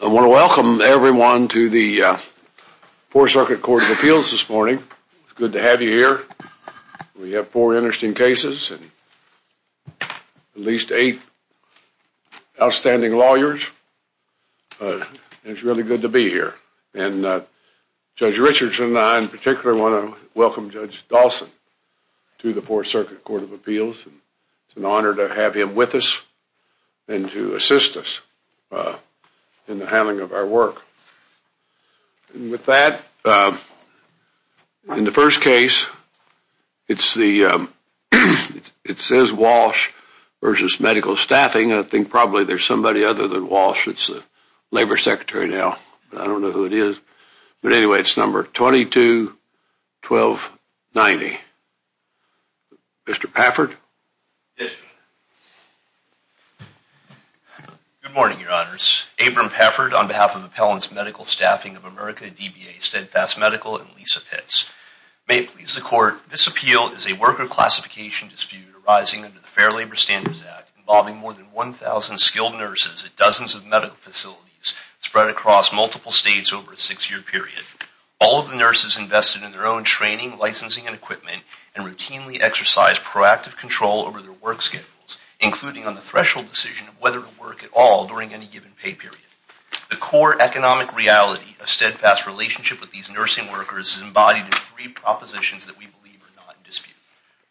I want to welcome everyone to the Fourth Circuit Court of Appeals this morning. It's good to have you here. We have four interesting cases and at least eight outstanding lawyers, and it's really good to be here. And Judge Richards and I in particular want to welcome Judge Dawson to the Fourth Circuit Court of Appeals. It's an honor to have him with us and to assist us in the handling of our work. With that, in the first case, it says Walsh v. Medical Staffing, I think probably there's somebody other than Walsh, it's the Labor Secretary now, I don't know who it is, but Good morning, Your Honors. Abram Peffert on behalf of Appellants Medical Staffing of America, DBA, Steadfast Medical, and Lisa Pitts. May it please the Court, this appeal is a worker classification dispute arising under the Fair Labor Standards Act involving more than 1,000 skilled nurses at dozens of medical facilities spread across multiple states over a six-year period. All of the nurses invested in their own training, licensing, and equipment and routinely exercised proactive control over their work schedules, including on the threshold decision of whether to work at all during any given pay period. The core economic reality of Steadfast's relationship with these nursing workers is embodied in three propositions that we believe are not in dispute.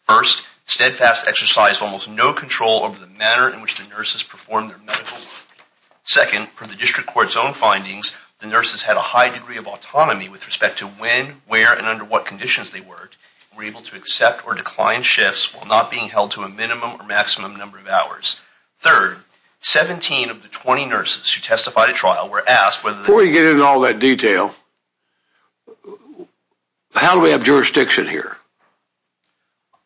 First, Steadfast exercised almost no control over the manner in which the nurses performed their medical work. Second, from the District Court's own findings, the nurses had a high degree of autonomy with respect to when, where, and under what conditions they worked, were able to accept or decline shifts while not being held to a minimum or maximum number of hours. Third, 17 of the 20 nurses who testified at trial were asked whether they... Before we get into all that detail, how do we have jurisdiction here?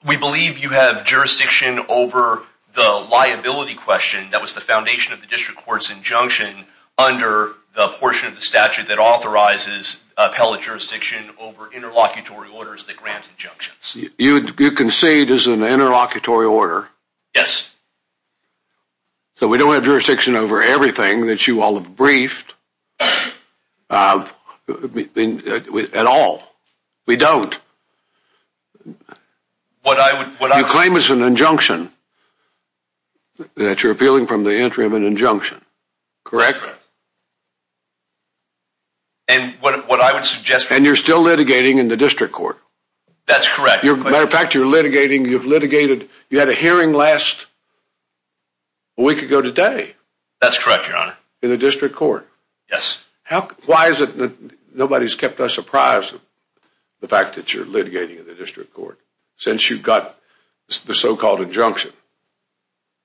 We believe you have jurisdiction over the liability question that was the foundation of the District Court's injunction under the portion of the statute that authorizes appellate jurisdiction over interlocutory orders that grant injunctions. You concede there's an interlocutory order. Yes. So we don't have jurisdiction over everything that you all have briefed at all. We don't. What I would... You claim it's an injunction, that you're appealing from the entry of an injunction. Correct? And what I would suggest... And you're still litigating in the District Court. That's correct. As a matter of fact, you're litigating... You've litigated... You had a hearing last... A week ago today. That's correct, Your Honor. In the District Court. Yes. Why is it that nobody's kept us apprised of the fact that you're litigating in the District Court, since you've got the so-called injunction?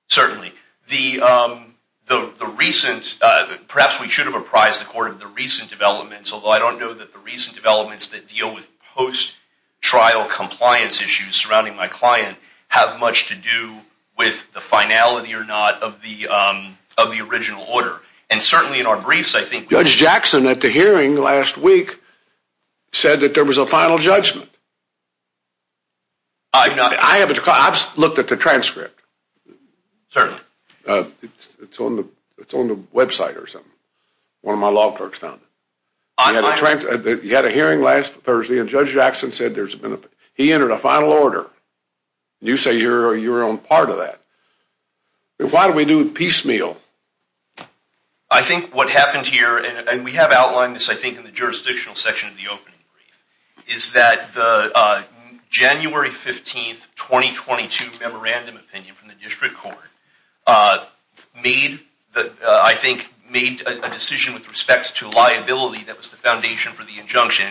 Certainly. The recent... Perhaps we should have apprised the Court of the recent developments, although I don't know that the recent developments that deal with post-trial compliance issues surrounding my client have much to do with the finality or not of the original order. And certainly in our briefs, I think... Judge Jackson, at the hearing last week, said that there was a final judgment. I haven't... I looked at the transcript. Certainly. It's on the website or something. One of my law perks found it. You had a hearing last Thursday, and Judge Jackson said there's been a... He entered a final order. You say you're on part of that. Why do we do it piecemeal? I think what happened here, and we have outlined this, I think, in the jurisdictional section of the opening, is that the January 15th, 2022 memorandum opinion from the District of Columbia, that was the foundation for the injunction,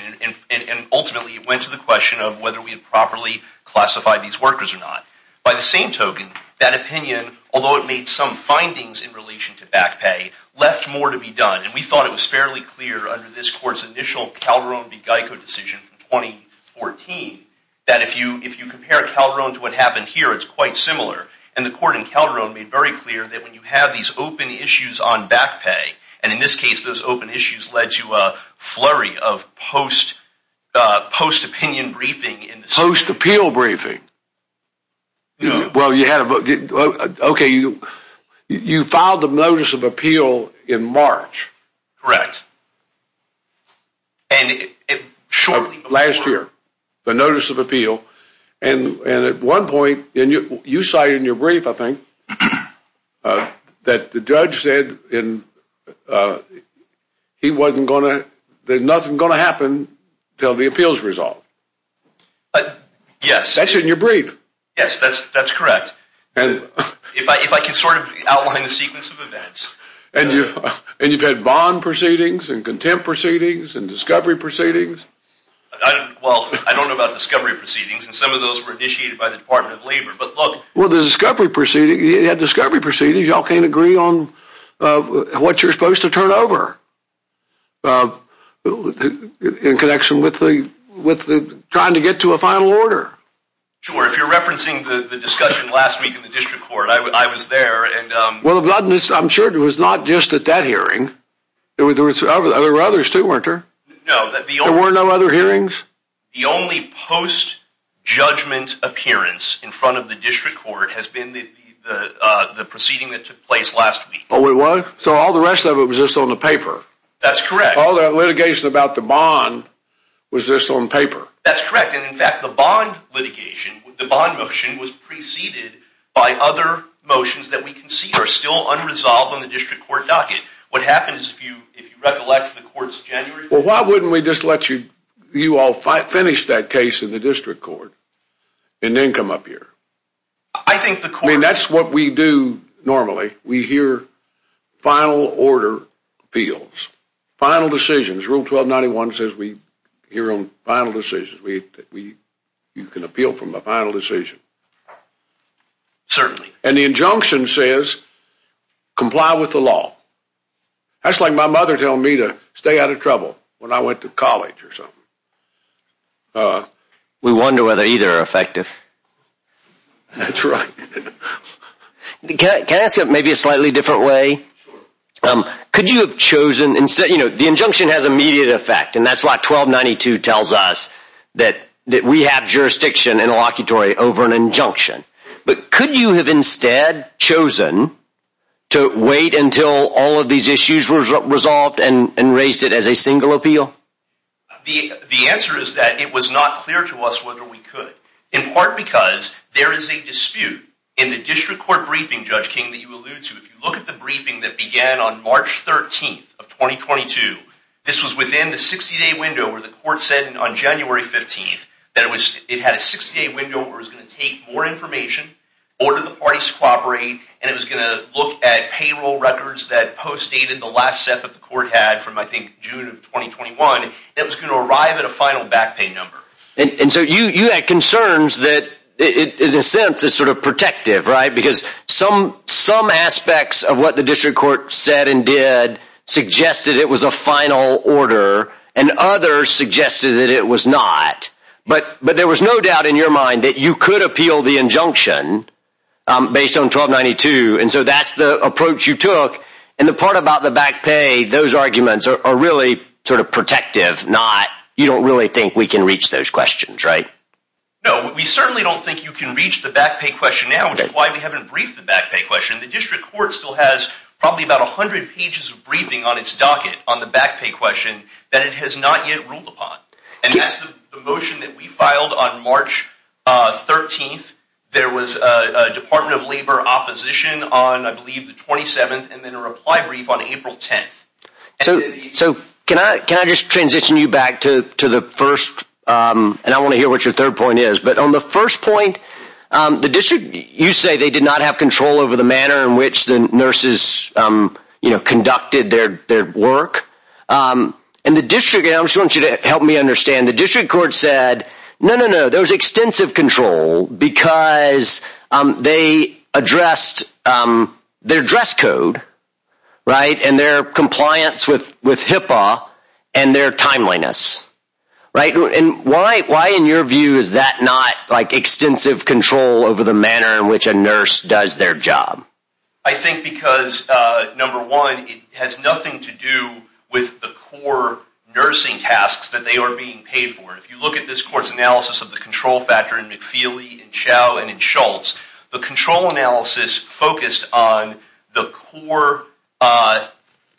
and ultimately it went to the question of whether we had properly classified these workers or not. By the same token, that opinion, although it made some findings in relation to back pay, left more to be done. And we thought it was fairly clear under this Court's initial Calderon v. Geico decision from 2014, that if you compare Calderon to what happened here, it's quite similar. And the Court in Calderon made very clear that when you have these open issues on back pay, it has led to a flurry of post-opinion briefing. Post-appeal briefing. You filed a notice of appeal in March. Correct. Last year. The notice of appeal. And at one point, you cite in your brief, I think, that the judge said there's nothing going to happen until the appeal is resolved. Yes. That's in your brief. Yes, that's correct. If I can sort of outline the sequence of events. And you've had bond proceedings, and contempt proceedings, and discovery proceedings. Well, I don't know about discovery proceedings. And some of those were initiated by the Department of Labor. But look. Well, the discovery proceedings. You had discovery proceedings. Y'all can't agree on what you're supposed to turn over in connection with trying to get to a final order. Sure. If you're referencing the discussion last week in the District Court, I was there. Well, I'm sure it was not just at that hearing. There were others, too, weren't there? No. There were no other hearings? The only post-judgment appearance in front of the District Court has been the proceeding that took place last week. Oh, it was? So all the rest of it was just on the paper? That's correct. All that litigation about the bond was just on paper? That's correct. And in fact, the bond litigation, the bond motion, was preceded by other motions that we can see are still unresolved on the District Court docket. What happens if you recollect the courts of January? Well, why wouldn't we just let you all finish that case in the District Court and then come up here? I think the court... I mean, that's what we do normally. We hear final order fields. Final decisions. Rule 1291 says we hear on final decisions. You can appeal from a final decision. Certainly. And the injunction says comply with the law. That's like my mother telling me to stay out of trouble when I went to college or something. We wonder whether either are effective. That's right. Can I ask you maybe a slightly different way? Could you have chosen... You know, the injunction has immediate effect, and that's why 1292 tells us that we have jurisdiction and a locutory over an injunction. But could you have instead chosen to wait until all of these issues were resolved and raised it as a single appeal? The answer is that it was not clear to us whether we could. In part because there is a dispute in the District Court briefing, Judge King, that you alluded to. If you look at the briefing that began on March 13th of 2022, this was within the 60-day window where the court said on January 15th that it had a 60-day window where it was going to take more information, order the parties to cooperate, and it was going to look at payroll records that postdated the last set that the court had from I think June of 2021 that was going to arrive at a final back pay number. And so you had concerns that, in a sense, is sort of protective, right? Because some aspects of what the District Court said and did suggested it was a final order, and others suggested that it was not. But there was no doubt in your mind that you could appeal the injunction based on 1292, and so that's the approach you took. And the part about the back pay, those arguments are really sort of protective. You don't really think we can reach those questions, right? No, we certainly don't think you can reach the back pay question now, which is why we haven't briefed the back pay question. The District Court still has probably about 100 pages of briefing on its docket on the back pay question that it has not yet ruled upon. And that's the motion that we filed on March 13th. There was a Department of Labor opposition on, I believe, the 27th, and then a reply brief on April 10th. So can I just transition you back to the first, and I want to hear what your third point is, but on the first point, the District, you say they did not have control over the manner in which the nurses conducted their work. And the District, and I just want you to help me understand, the District Court said, no, no, no, there was extensive control because they addressed their dress code, right, and their compliance with HIPAA and their timeliness, right? And why, in your view, is that not, like, extensive control over the manner in which a nurse does their job? I think because, number one, it has nothing to do with the core nursing tasks that they are being paid for. If you look at this Court's analysis of the control factor in McFeely and Chow and in Schultz, the control analysis focused on the core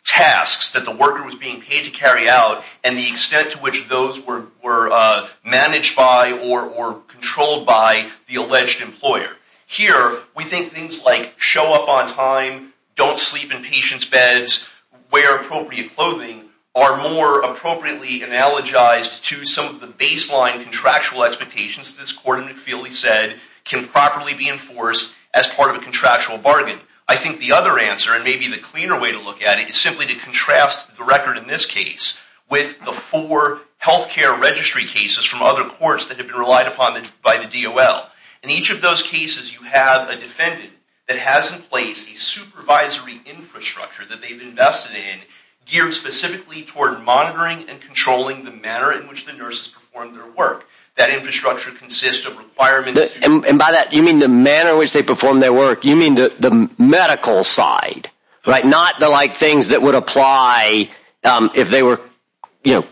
tasks that the worker was being paid to carry out and the extent to which those were managed by or controlled by the alleged employer. Here, we think things like show up on time, don't sleep in patients' beds, wear appropriate clothing, are more appropriately analogized to some of the baseline contractual expectations that this Court in McFeely said can properly be enforced as part of a contractual bargain. I think the other answer, and maybe the cleaner way to look at it, is simply to contrast the record in this case with the four healthcare registry cases from other courts that have been relied upon by the DOL. In each of those cases, you have a defendant that has in place a supervisory infrastructure that they've invested in geared specifically toward monitoring and controlling the manner in which the nurses perform their work. That infrastructure consists of requirements... And by that, you mean the manner in which they perform their work. You mean the medical side, right? Not the like things that would apply if they were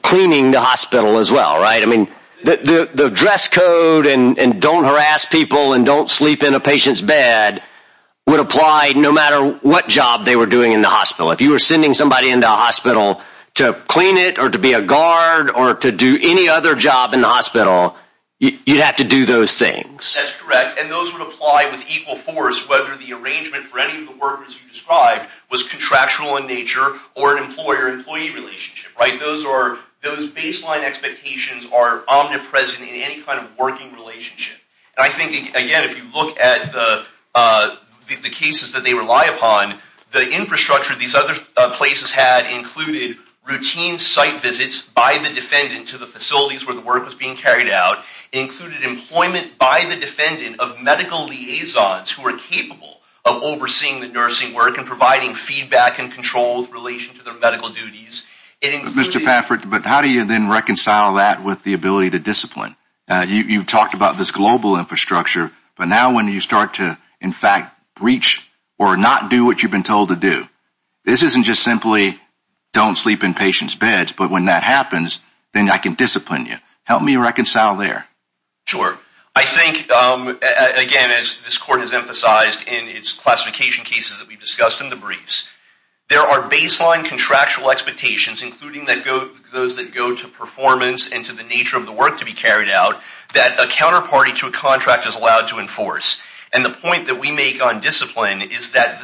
cleaning the hospital as well, right? I mean, the dress code and don't harass people and don't sleep in a patient's bed would apply no matter what job they were doing in the hospital. If you were sending somebody in the hospital to clean it or to be a guard or to do any other job in the hospital, you'd have to do those things. That's correct. And those would apply with equal force whether the arrangement for any of the work as you described was contractual in nature or an employer-employee relationship, right? Those baseline expectations are omnipresent in any kind of working relationship. And I think, again, if you look at the cases that they rely upon, the infrastructure these other places had included routine site visits by the defendant to the facilities where the work was being carried out, included employment by the defendant of medical liaisons who were capable of overseeing the nursing work and providing feedback and control in relation to their medical duties. Mr. Paffert, but how do you then reconcile that with the ability to discipline? You talked about this global infrastructure, but now when you start to, in fact, breach or not do what you've been told to do, this isn't just simply don't sleep in patients' beds, but when that happens, then I can discipline you. Help me reconcile there. Sure. I think, again, as this court has emphasized in its classification cases that we discussed in the briefs, there are baseline contractual expectations, including those that go to performance and to the nature of the work to be carried out, that a counterparty to a contract is allowed to enforce. And the point that we make on discipline is that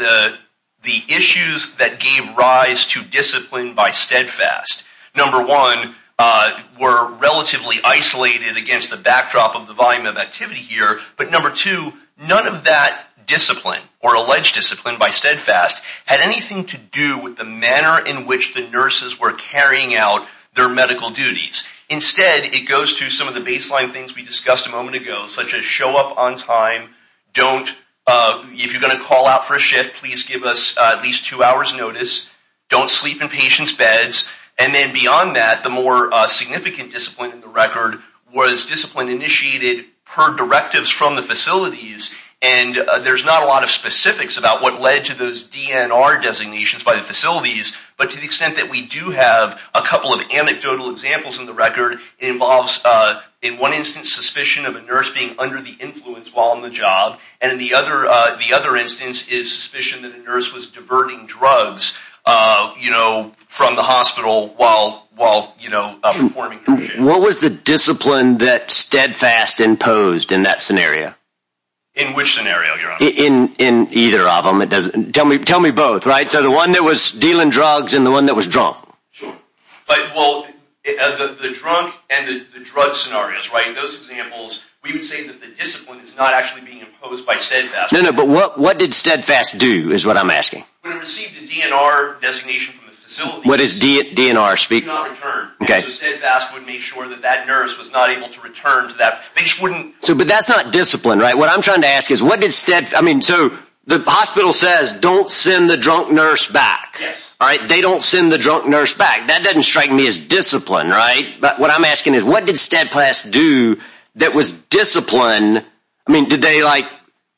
the issues that gave rise to discipline by steadfast, number one, were relatively isolated against the backdrop of the volume of activity here, but number two, none of that discipline or alleged discipline by steadfast had anything to do with the manner in which the nurses were carrying out their medical duties. Instead, it goes to some of the baseline things we discussed a moment ago, such as show up on time. If you're going to call out for a shift, please give us at least two hours' notice. Don't sleep in patients' beds. And then beyond that, the more significant discipline in the record was discipline initiated per directives from the facilities, and there's not a lot of specifics about what led to those DNR designations by the facilities, but to the extent that we do have a couple of anecdotal examples in the record, it involves, in one instance, suspicion of a nurse being under the influence while on the job, and in the other instance is suspicion that the nurse was diverting drugs from the hospital while performing her duties. What was the discipline that steadfast imposed in that scenario? In which scenario, Your Honor? In either of them. Tell me both, right? So the one that was dealing drugs and the one that was drunk. Sure. Like, well, the drunk and the drug scenarios, right? Those examples, we would say that the discipline is not actually being imposed by steadfast. No, no, but what did steadfast do, is what I'm asking. It received a DNR designation from the facility. What is DNR speaking of? It was not confirmed. Okay. So steadfast would make sure that that nurse was not able to return to that facility. But that's not discipline, right? What I'm trying to ask is, what did steadfast, I mean, so the hospital says, don't send the drunk nurse back. Yes. All right? They don't send the drunk nurse back. That doesn't strike me as discipline, right? But what I'm asking is, what did steadfast do that was discipline, I mean, did they, like,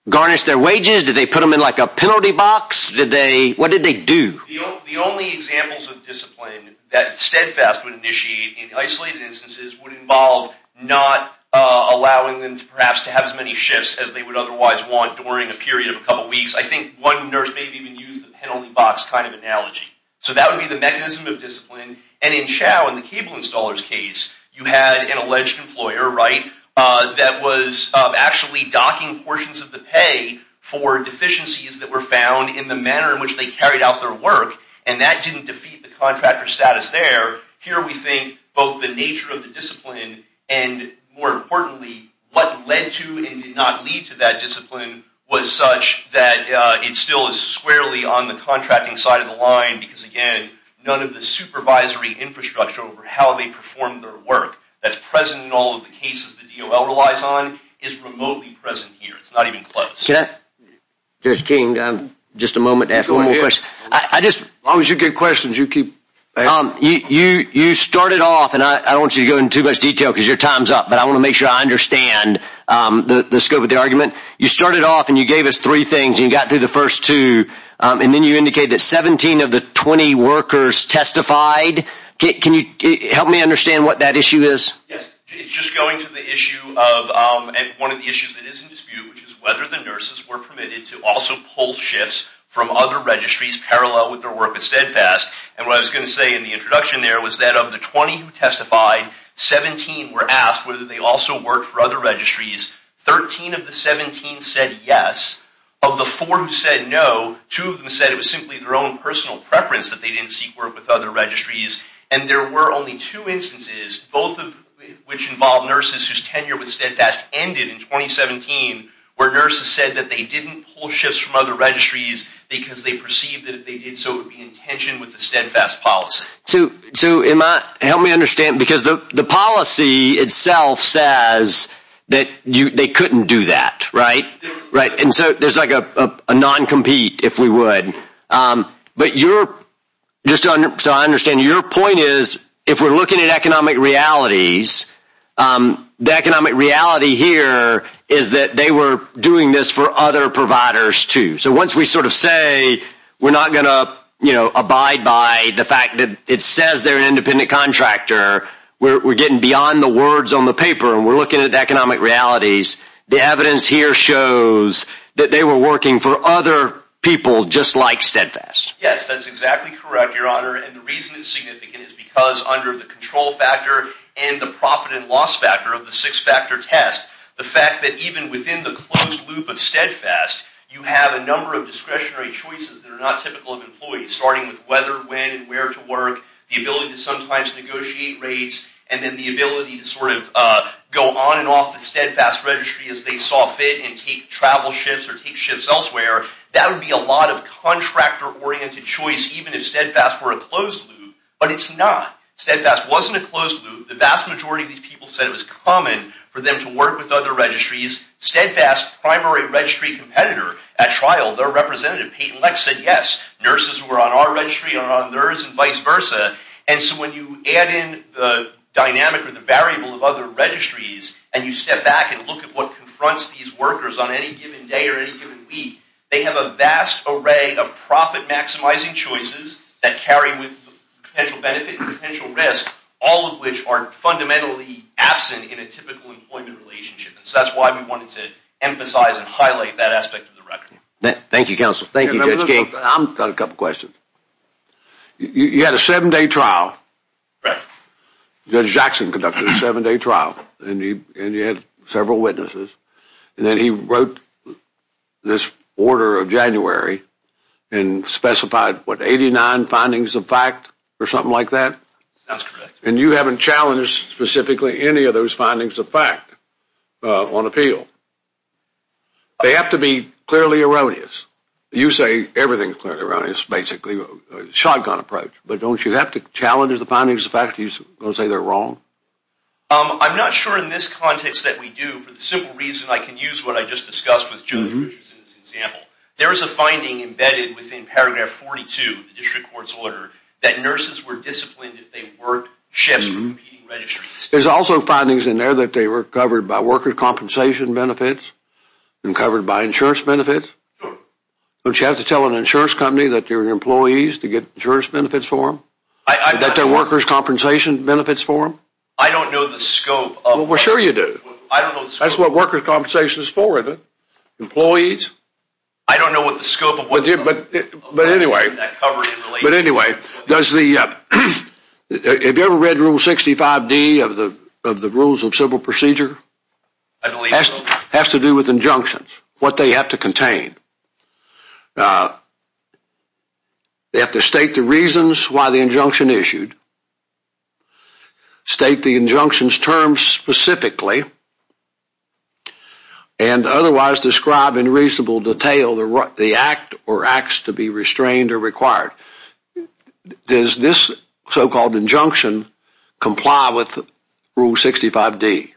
garnish their wages? Did they put them in, like, a penalty box? Did they, what did they do? The only examples of discipline that steadfast would initiate in isolated instances would involve not allowing them, perhaps, to have as many shifts as they would otherwise want during a period of a couple weeks. I think one nurse may even use the penalty box kind of analogy. So that would be the mechanism of discipline. And in Chao, in the cable installers case, you had an alleged employer, right, that was capable of actually docking portions of the pay for deficiencies that were found in the manner in which they carried out their work, and that didn't defeat the contractor status there. Here we think both the nature of the discipline and, more importantly, what led to and did not lead to that discipline was such that it still is squarely on the contracting side of the line because, again, none of the supervisory infrastructure over how they perform their work. That's present in all of the cases that the DOL relies on. It's remotely present here. It's not even close. Can I? Just a moment to ask one more question. I just, as long as you give questions, you keep, you started off, and I don't want you to go into too much detail because your time's up, but I want to make sure I understand the scope of the argument. You started off and you gave us three things, and you got through the first two, and then you indicated that 17 of the 20 workers testified. Can you help me understand what that issue is? Yes. It's just going to the issue of, one of the issues that is in dispute, which is whether the nurses were permitted to also pull shifts from other registries parallel with their work at Steadfast, and what I was going to say in the introduction there was that of the 20 who testified, 17 were asked whether they also worked for other registries. Thirteen of the 17 said yes. Of the four who said no, two of them said it was simply their own personal preference that they didn't seek work with other registries, and there were only two instances, both of which involved nurses whose tenure with Steadfast ended in 2017, where nurses said that they didn't pull shifts from other registries because they perceived that if they did so it would be in tension with the Steadfast policy. So, help me understand, because the policy itself says that they couldn't do that, right? Right. And so there's like a non-compete, if we would. But just so I understand, your point is, if we're looking at economic realities, the economic reality here is that they were doing this for other providers, too. So once we sort of say we're not going to, you know, abide by the fact that it says they're an independent contractor, we're getting beyond the words on the paper, and we're looking at the economic realities, the evidence here shows that they were working for other people just like Steadfast. Yes, that's exactly correct, your honor, and the reason it's significant is because under the control factor and the profit and loss factor of the six-factor test, the fact that even within the closed loop of Steadfast, you have a number of discretionary choices that are not typical of employees, starting with whether, when, and where to work, the ability to sometimes negotiate rates, and then the ability to sort of go on and off the Steadfast registry as they saw fit and take travel shifts or take shifts elsewhere, that would be a lot of contractor-oriented choice even if Steadfast were a closed loop, but it's not. Steadfast wasn't a closed loop. The vast majority of these people said it was common for them to work with other registries. Steadfast's primary registry competitor at trial, their representative, Peyton Leck, said yes, nurses who are on our registry are on theirs and vice versa, and so when you add in the dynamic or the variable of other registries and you step back and look at what they have a vast array of profit-maximizing choices that carry with potential benefit and potential risk, all of which are fundamentally absent in a typical employment relationship, and so that's why we wanted to emphasize and highlight that aspect of the record. Thank you, counsel. Thank you, Judge Gates. I've got a couple questions. You had a seven-day trial. Right. Judge Jackson conducted a seven-day trial, and you had several witnesses, and then he wrote this order of January and specified, what, 89 findings of fact or something like that? That's correct. And you haven't challenged specifically any of those findings of fact on appeal? They have to be clearly erroneous. You say everything's clearly erroneous, basically, a shotgun approach, but don't you have to challenge the findings of fact? Are you going to say they're wrong? I'm not sure in this context that we do. For the simple reason, I can use what I just discussed with Judge Richards in this example. There is a finding embedded within paragraph 42 of the district court's order that nurses were disciplined if they worked shifts for competing registries. There's also findings in there that they were covered by worker compensation benefits and covered by insurance benefits. Don't you have to tell an insurance company that they're employees to get insurance benefits for them? That they're workers' compensation benefits for them? I don't know the scope. Well, sure you do. I don't know the scope. That's what worker compensation is for, isn't it? Employees? I don't know what the scope of workers' compensation benefits are. But anyway, does the, have you ever read Rule 65D of the Rules of Civil Procedure? I believe so. It has to do with injunctions, what they have to contain. They have to state the reasons why the injunction issued, state the injunction's terms specifically, and otherwise describe in reasonable detail the act or acts to be restrained or required. Does this so-called injunction comply with Rule 65D?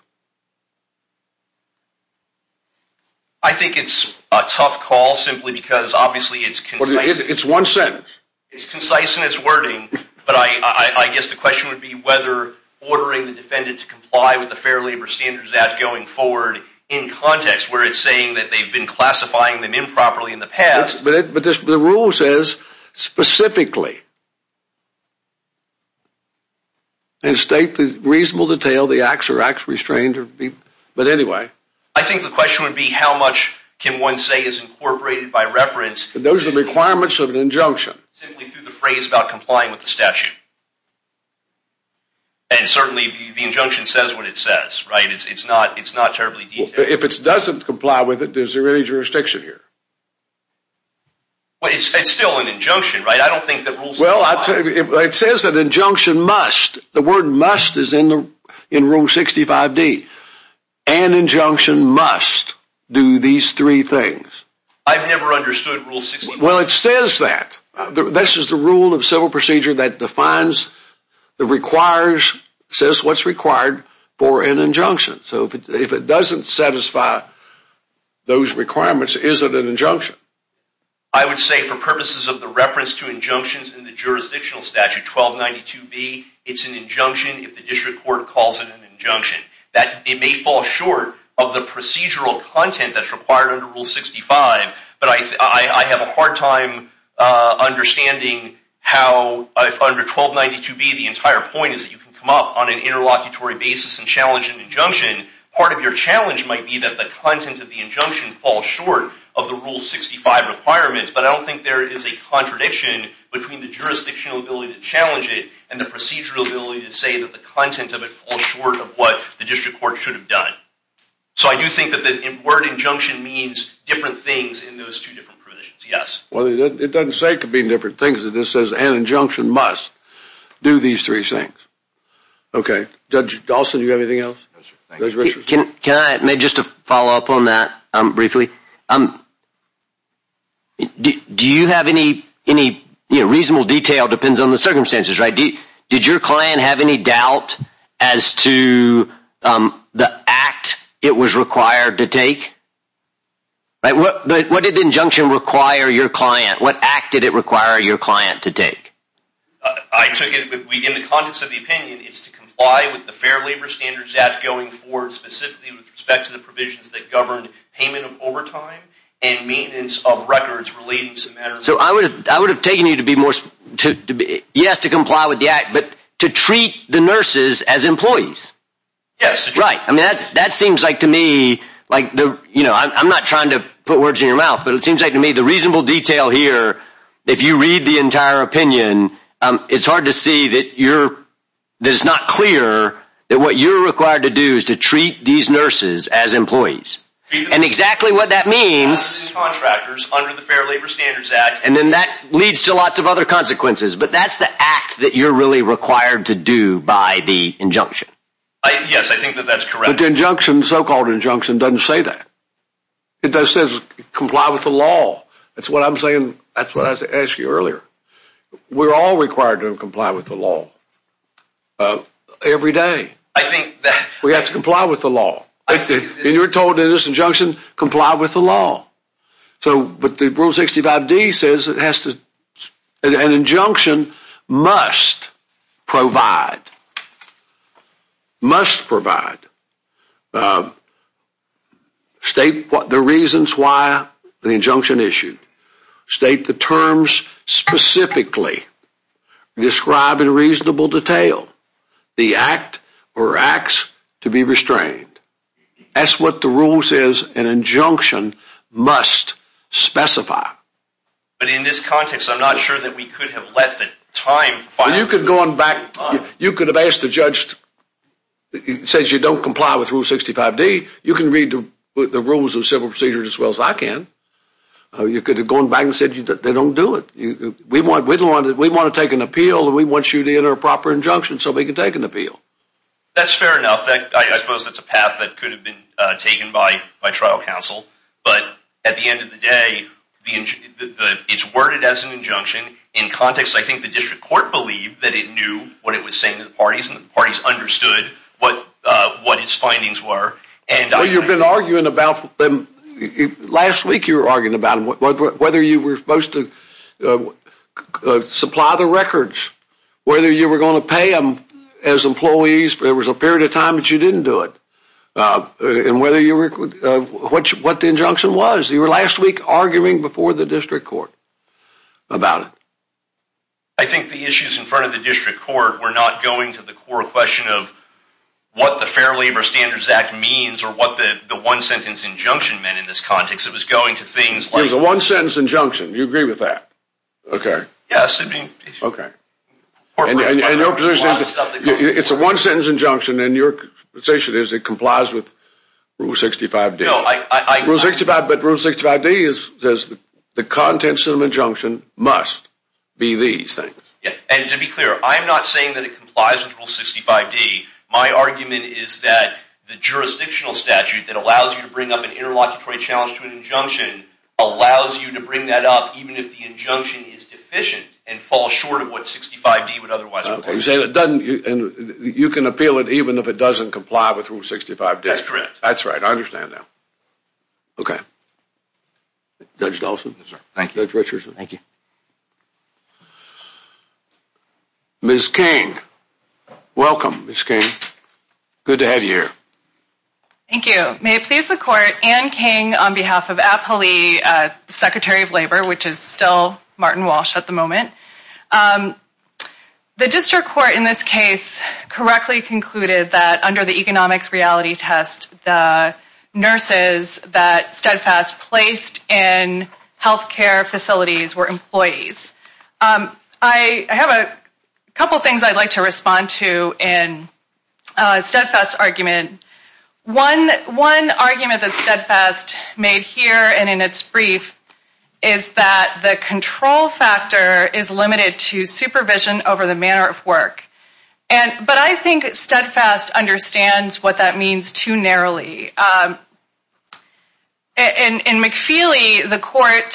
I think it's a tough call simply because obviously it's concise. It's one sentence. It's concise in its wording, but I guess the question would be whether ordering the defendant to comply with the Fair Labor Standards Act going forward in context where it's saying that they've been classifying them improperly in the past. But the rule says specifically. And state in reasonable detail the acts or acts restrained. But anyway. I think the question would be how much can one say is incorporated by reference. Those are requirements of an injunction. Simply through the phrase about complying with the statute. And certainly the injunction says what it says, right? It's not terribly detailed. If it doesn't comply with it, there's no jurisdiction here. But it's still an injunction, right? I don't think that Rule 65... Well, it says that injunction must. The word must is in Rule 65D. An injunction must do these three things. I've never understood Rule 65D. Well, it says that. This is the rule of civil procedure that defines, that requires, says what's required for an injunction. So if it doesn't satisfy those requirements, it isn't an injunction. I would say for purposes of the reference to injunctions in the jurisdictional statute 1292B, it's an injunction if the district court calls it an injunction. It may fall short of the procedural content that's required under Rule 65. But I have a hard time understanding how under 1292B, the entire point is that you can come up on an interlocutory basis and challenge an injunction. Part of your challenge might be that the content of the injunction falls short of the Rule 65 requirements. But I don't think there is a contradiction between the jurisdictional ability to challenge it and the procedural ability to say that the content of it falls short of what the district court should have done. So I do think that the word injunction means different things in those two different provisions, yes. Well, it doesn't say it could mean different things. It just says an injunction must do these three things. Okay. Judge Dawson, do you have anything else? Can I just follow up on that briefly? Do you have any reasonable detail? It depends on the circumstances, right? Did your client have any doubt as to the act it was required to take? What did the injunction require your client? What act did it require your client to take? I took it that we, in the context of the opinion, is to comply with the Fair Labor Standards Act going forward, specifically with respect to the provisions that govern payment of overtime and maintenance of records relating to that. So I would have taken it to be more, yes, to comply with the act, but to treat the nurses as employees. Yes. Right. That seems like to me, I'm not trying to put words in your mouth, but it seems like to me the reasonable detail here, if you read the entire opinion, it's hard to see that it's not clear that what you're required to do is to treat these nurses as employees. And exactly what that means, and then that leads to lots of other consequences, but that's the act that you're really required to do by the injunction. Yes, I think that that's correct. But the so-called injunction doesn't say that. It does say comply with the law. That's what I'm saying. That's what I asked you earlier. We're all required to comply with the law every day. I think that. We have to comply with the law. I think that. And you're told in this injunction, comply with the law. But the Rule 65D says an injunction must provide, must provide, state the reasons why the injunction issued. State the terms specifically. Describe in reasonable detail the act or acts to be restrained. That's what the rule says an injunction must specify. But in this context, I'm not sure that we could have left the time. You could have asked the judge, it says you don't comply with Rule 65D. You can read the rules and civil procedures as well as I can. You could have gone back and said they don't do it. We want to take an appeal and we want you to enter a proper injunction so we can take an appeal. That's fair enough. I suppose that's a path that could have been taken by trial counsel. But at the end of the day, it's worded as an injunction. In context, I think the district court believed that it knew what it was saying to the parties and the parties understood what its findings were. Well, you've been arguing about them. Last week you were arguing about them, whether you were supposed to supply the records, whether you were going to pay them as employees. There was a period of time that you didn't do it. And what the injunction was. You were last week arguing before the district court about it. I think the issues in front of the district court were not going to the core question of what the Fair Labor Standards Act means or what the one-sentence injunction meant in this context. It was going to things like... It was a one-sentence injunction. Do you agree with that? Yes. Okay. It's a one-sentence injunction and your position is it complies with Rule 65D. But Rule 65D says the contents of an injunction must be these things. And to be clear, I'm not saying that it complies with Rule 65D. My argument is that the jurisdictional statute that allows you to bring up an interlocutory challenge to an injunction allows you to bring that up even if the injunction is deficient and falls short of what 65D would otherwise require. You can appeal it even if it doesn't comply with Rule 65D. That's correct. That's right. I understand that. Okay. Judge Dawson. Thank you. Judge Richardson. Thank you. Ms. King. Welcome, Ms. King. Good to have you here. Thank you. May it please the Court. Anne King on behalf of APHLE, Secretary of Labor, which is still Martin Walsh at the moment. The district court in this case correctly concluded that under the economics reality test, the nurses that Steadfast placed in healthcare facilities were employees. I have a couple things I'd like to respond to in Steadfast's argument. One argument that Steadfast made here and in its brief is that the control factor is limited to supervision over the manner of work. But I think Steadfast understands what that means too narrowly. In McFeely, the court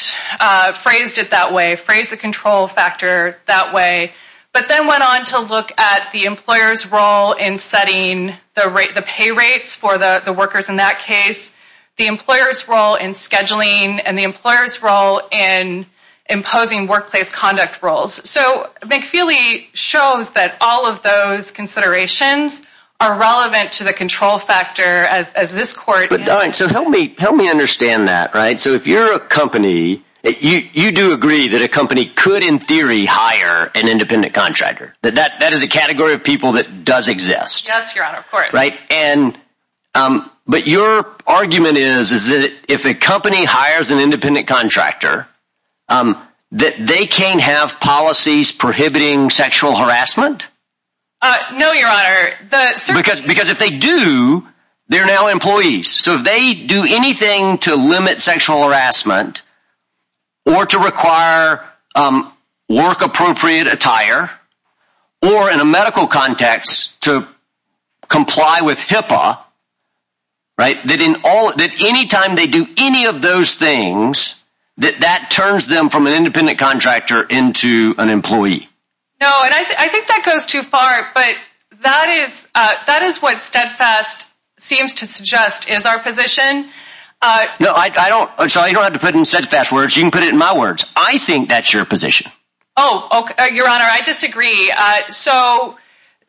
phrased it that way, phrased the control factor that way, but then went on to look at the employer's role in setting the pay rates for the workers in that case, the employer's role in scheduling, and the employer's role in imposing workplace conduct roles. McFeely shows that all of those considerations are relevant to the control factor as this court— So help me understand that. So if you're a company, you do agree that a company could in theory hire an independent contractor. That that is a category of people that does exist. Yes, Your Honor, of course. But your argument is that if a company hires an independent contractor, that they can't have policies prohibiting sexual harassment? No, Your Honor. Because if they do, they're now employees. So if they do anything to limit sexual harassment or to require work-appropriate attire, or in a medical context to comply with HIPAA, that any time they do any of those things, that that turns them from an independent contractor into an employee. No, and I think that goes too far. But that is what Steadfast seems to suggest is our position. No, I don't—so you don't have to put it in Steadfast's words. You can put it in my words. I think that's your position. Oh, Your Honor, I disagree. So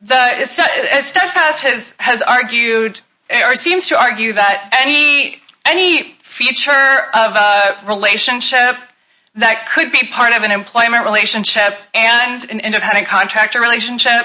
Steadfast has argued or seems to argue that any feature of a relationship that could be part of an employment relationship and an independent contractor relationship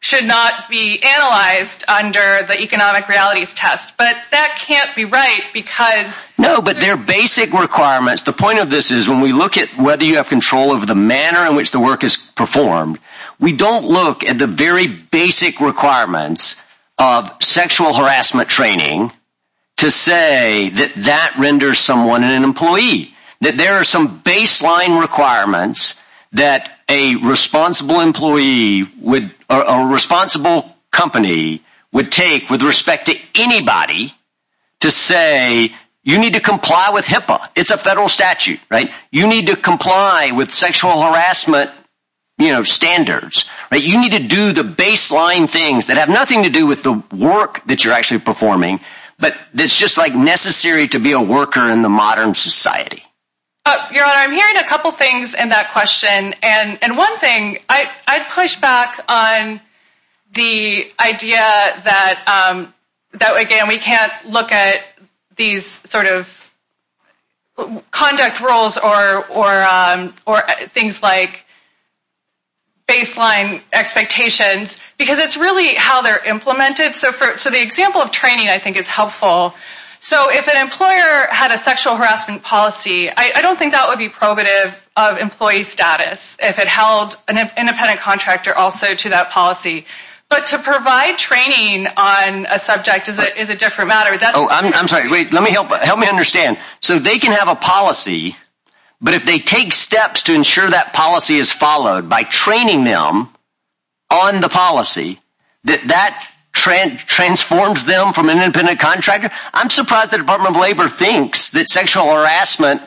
should not be analyzed under the economic realities test. But that can't be right because— No, but there are basic requirements. The point of this is when we look at whether you have control over the manner in which the work is performed, we don't look at the very basic requirements of sexual harassment training to say that that renders someone an employee, that there are some baseline requirements that a responsible employee or a responsible company would take with respect to anybody to say you need to comply with HIPAA. It's a federal statute, right? You need to comply with sexual harassment standards. You need to do the baseline things that have nothing to do with the work that you're actually performing but that's just like necessary to be a worker in the modern society. Your Honor, I'm hearing a couple things in that question. And one thing, I'd push back on the idea that, again, we can't look at these sort of conduct rules or things like baseline expectations because it's really how they're implemented. So the example of training I think is helpful. So if an employer had a sexual harassment policy, I don't think that would be probative of employee status if it held an independent contractor also to that policy. But to provide training on a subject is a different matter. Oh, I'm sorry. Wait, let me help. Help me understand. So they can have a policy, but if they take steps to ensure that policy is followed by training them on the policy, that that transforms them from an independent contractor? I'm surprised the Department of Labor thinks that sexual harassment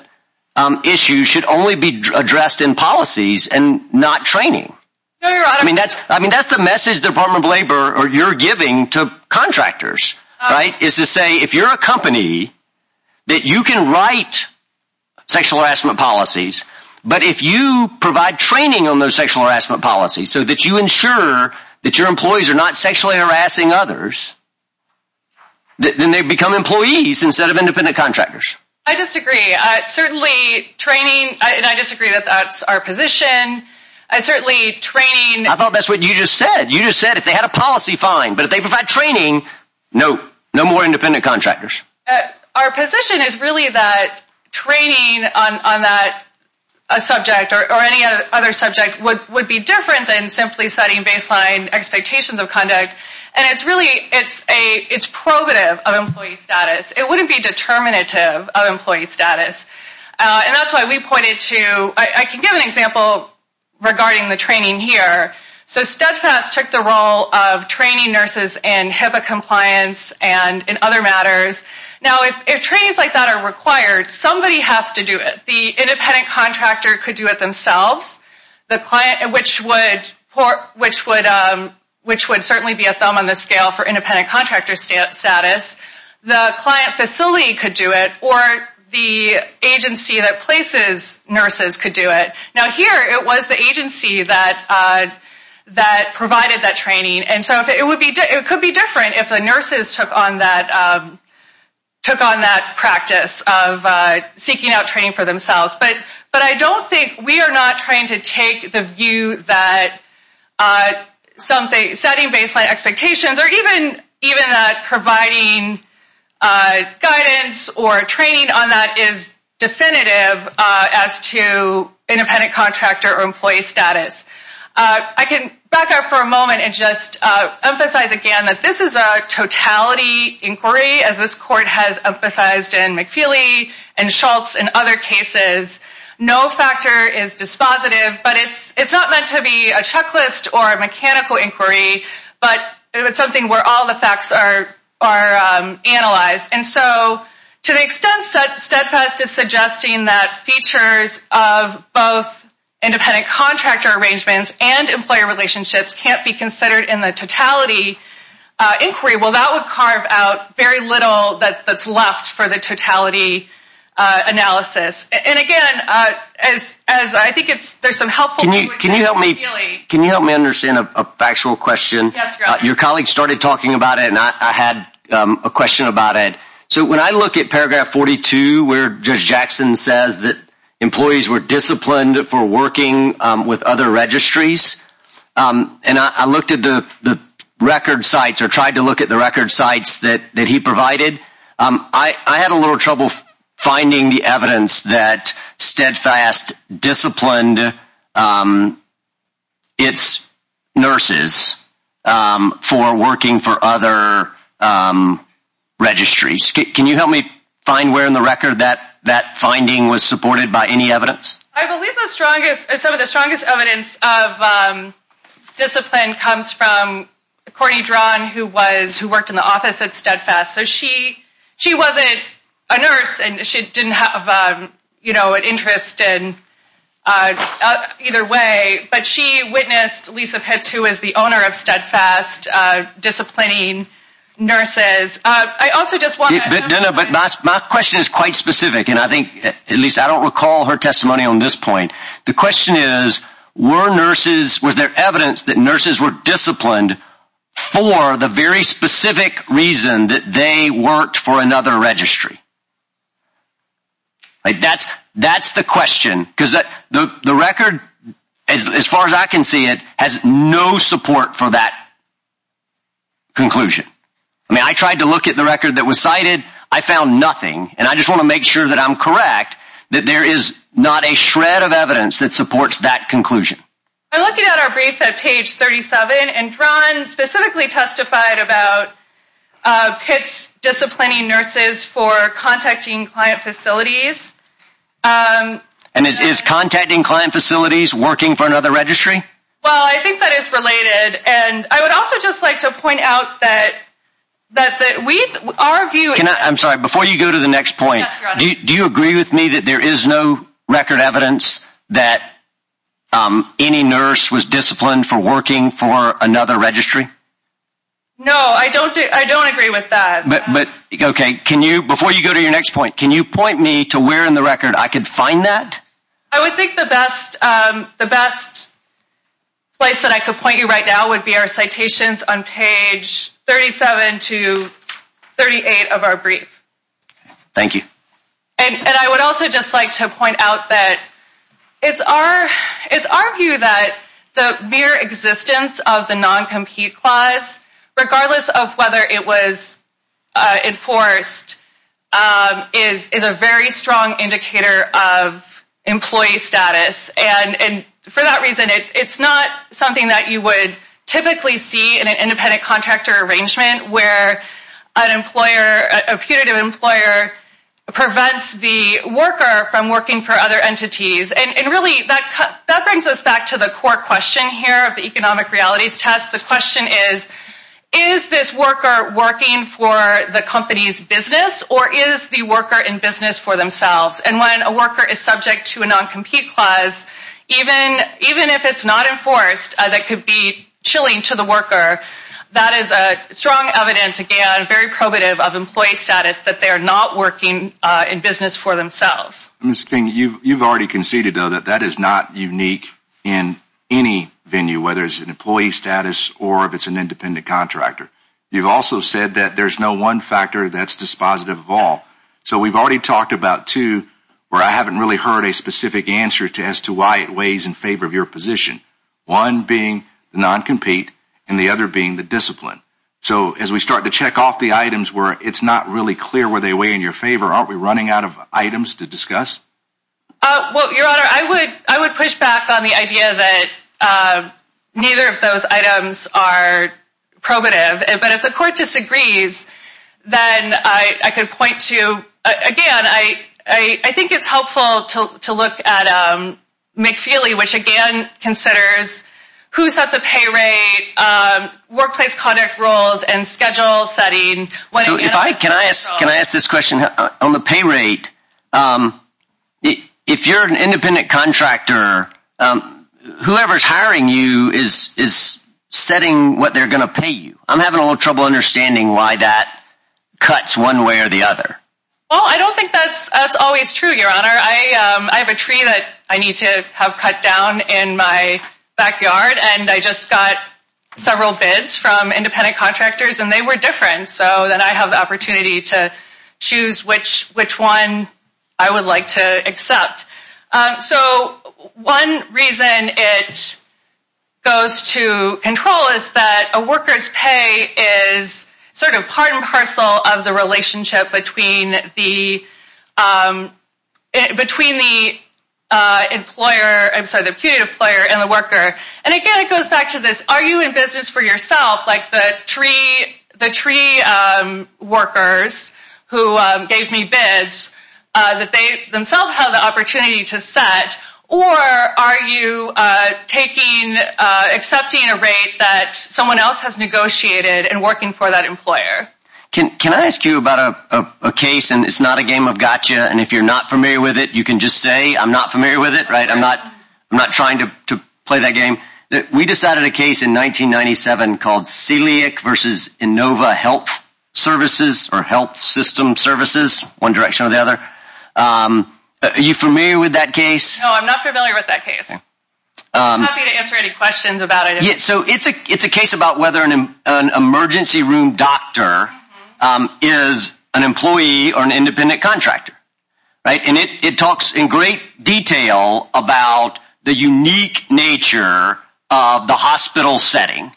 issues should only be addressed in policies and not training. I mean, that's the message the Department of Labor or you're giving to contractors, right? Is to say, if you're a company, that you can write sexual harassment policies, but if you provide training on those sexual harassment policies so that you ensure that your employees are not sexually harassing others, then they become employees instead of independent contractors. I disagree. Certainly training, and I disagree that that's our position. I certainly train. I thought that's what you just said. You just said if they had a policy, fine, but if they provide training, no. No more independent contractors. Our position is really that training on that subject or any other subject would be different than simply setting baseline expectations of conduct, and it's really, it's probative of employee status. It wouldn't be determinative of employee status, and that's why we pointed to, I can give an example regarding the training here. So, STEPS Act took the role of training nurses in HIPAA compliance and in other matters. Now, if trainings like that are required, somebody has to do it. The independent contractor could do it themselves, which would certainly be a thumb on the scale for independent contractor status. The client facility could do it, or the agency that places nurses could do it. Now, here it was the agency that provided that training, and so it could be different if the nurses took on that practice of seeking out training for themselves, but I don't think we are not trying to take the view that setting baseline expectations or even providing guidance or training on that is definitive as to independent contractor or employee status. I can back up for a moment and just emphasize again that this is a totality inquiry, as this court has emphasized in McFeely and Schultz and other cases. No factor is dispositive, but it's not meant to be a checklist or a mechanical inquiry, but it's something where all the facts are analyzed. And so, to the extent that STEPS Act is suggesting that features of both independent contractor arrangements and employer relationships can't be considered in the totality inquiry, well, that would carve out very little that's left for the totality analysis. And again, I think there's some helpful... Can you help me understand a factual question? Your colleague started talking about it, and I had a question about it. So when I look at paragraph 42 where Judge Jackson says that employees were disciplined for working with other registries, and I looked at the record sites or tried to look at the record sites that he provided, I had a little trouble finding the evidence that Steadfast disciplined its nurses for working for other registries. Can you help me find where in the record that finding was supported by any evidence? I believe some of the strongest evidence of discipline comes from Courtney Drang, who worked in the office at Steadfast. So she wasn't a nurse, and she didn't have, you know, an interest in either way, but she witnessed Lisa Pitt, who is the owner of Steadfast, disciplining nurses. I also just want... But my question is quite specific, and I think, at least I don't recall her testimony on this point. The question is, were nurses... that they worked for another registry? That's the question, because the record, as far as I can see it, has no support for that conclusion. I mean, I tried to look at the record that was cited. I found nothing, and I just want to make sure that I'm correct, that there is not a shred of evidence that supports that conclusion. I looked at our briefs at page 37, and Drang specifically testified about Pitt disciplining nurses for contacting client facilities. And is contacting client facilities working for another registry? Well, I think that is related, and I would also just like to point out that our view... I'm sorry. Before you go to the next point, do you agree with me that there is no record evidence that any nurse was disciplined for working for another registry? No, I don't agree with that. But, okay, can you... Before you go to your next point, can you point me to where in the record I could find that? I would think the best place that I could point you right now would be our citations on page 37 to 38 of our brief. Thank you. And I would also just like to point out that it's our view that the mere existence of the non-compete clause, regardless of whether it was enforced, is a very strong indicator of employee status. And for that reason, it's not something that you would typically see in an independent contractor arrangement where a putative employer prevents the worker from working for other entities. And really, that brings us back to the core question here of the economic realities test. The question is, is this worker working for the company's business, or is the worker in business for themselves? And when a worker is subject to a non-compete clause, even if it's not enforced, that could be chilling to the worker. That is strong evidence, again, very probative of employee status that they're not working in business for themselves. Ms. King, you've already conceded, though, that that is not unique in any venue, whether it's an employee status or if it's an independent contractor. You've also said that there's no one factor that's dispositive of all. So we've already talked about two where I haven't really heard a specific answer as to why it weighs in favor of your position, one being non-compete and the other being the discipline. So as we start to check off the items where it's not really clear whether they weigh in your favor, aren't we running out of items to discuss? Well, Your Honor, I would push back on the idea that neither of those items are probative. But if the court disagrees, then I could point to, again, I think it's helpful to look at McFeely, which, again, considers who sets the pay rate, workplace contract rules, and schedule setting. Can I ask this question? On the pay rate, if you're an independent contractor, whoever's hiring you is setting what they're going to pay you. I'm having a little trouble understanding why that cuts one way or the other. Well, I don't think that's always true, Your Honor. I have a tree that I need to have cut down in my backyard, and I just got several bids from independent contractors, and they were different. So then I have the opportunity to choose which one I would like to accept. So one reason it goes to control is that a worker's pay is sort of part and parcel of the relationship between the employer and the worker. And, again, it goes back to this, are you in business for yourself, like the tree workers who gave me bids that they themselves had the opportunity to set, or are you accepting a rate that someone else has negotiated and working for that employer? Can I ask you about a case, and it's not a game of gotcha, and if you're not familiar with it, you can just say I'm not familiar with it. I'm not trying to play that game. We decided a case in 1997 called Celiac versus Inova Health Services or Health System Services, one direction or the other. Are you familiar with that case? No, I'm not familiar with that case. I'm happy to answer any questions about it. Yeah, so it's a case about whether an emergency room doctor is an employee or an independent contractor, right? And it talks in great detail about the unique nature of the hospital setting.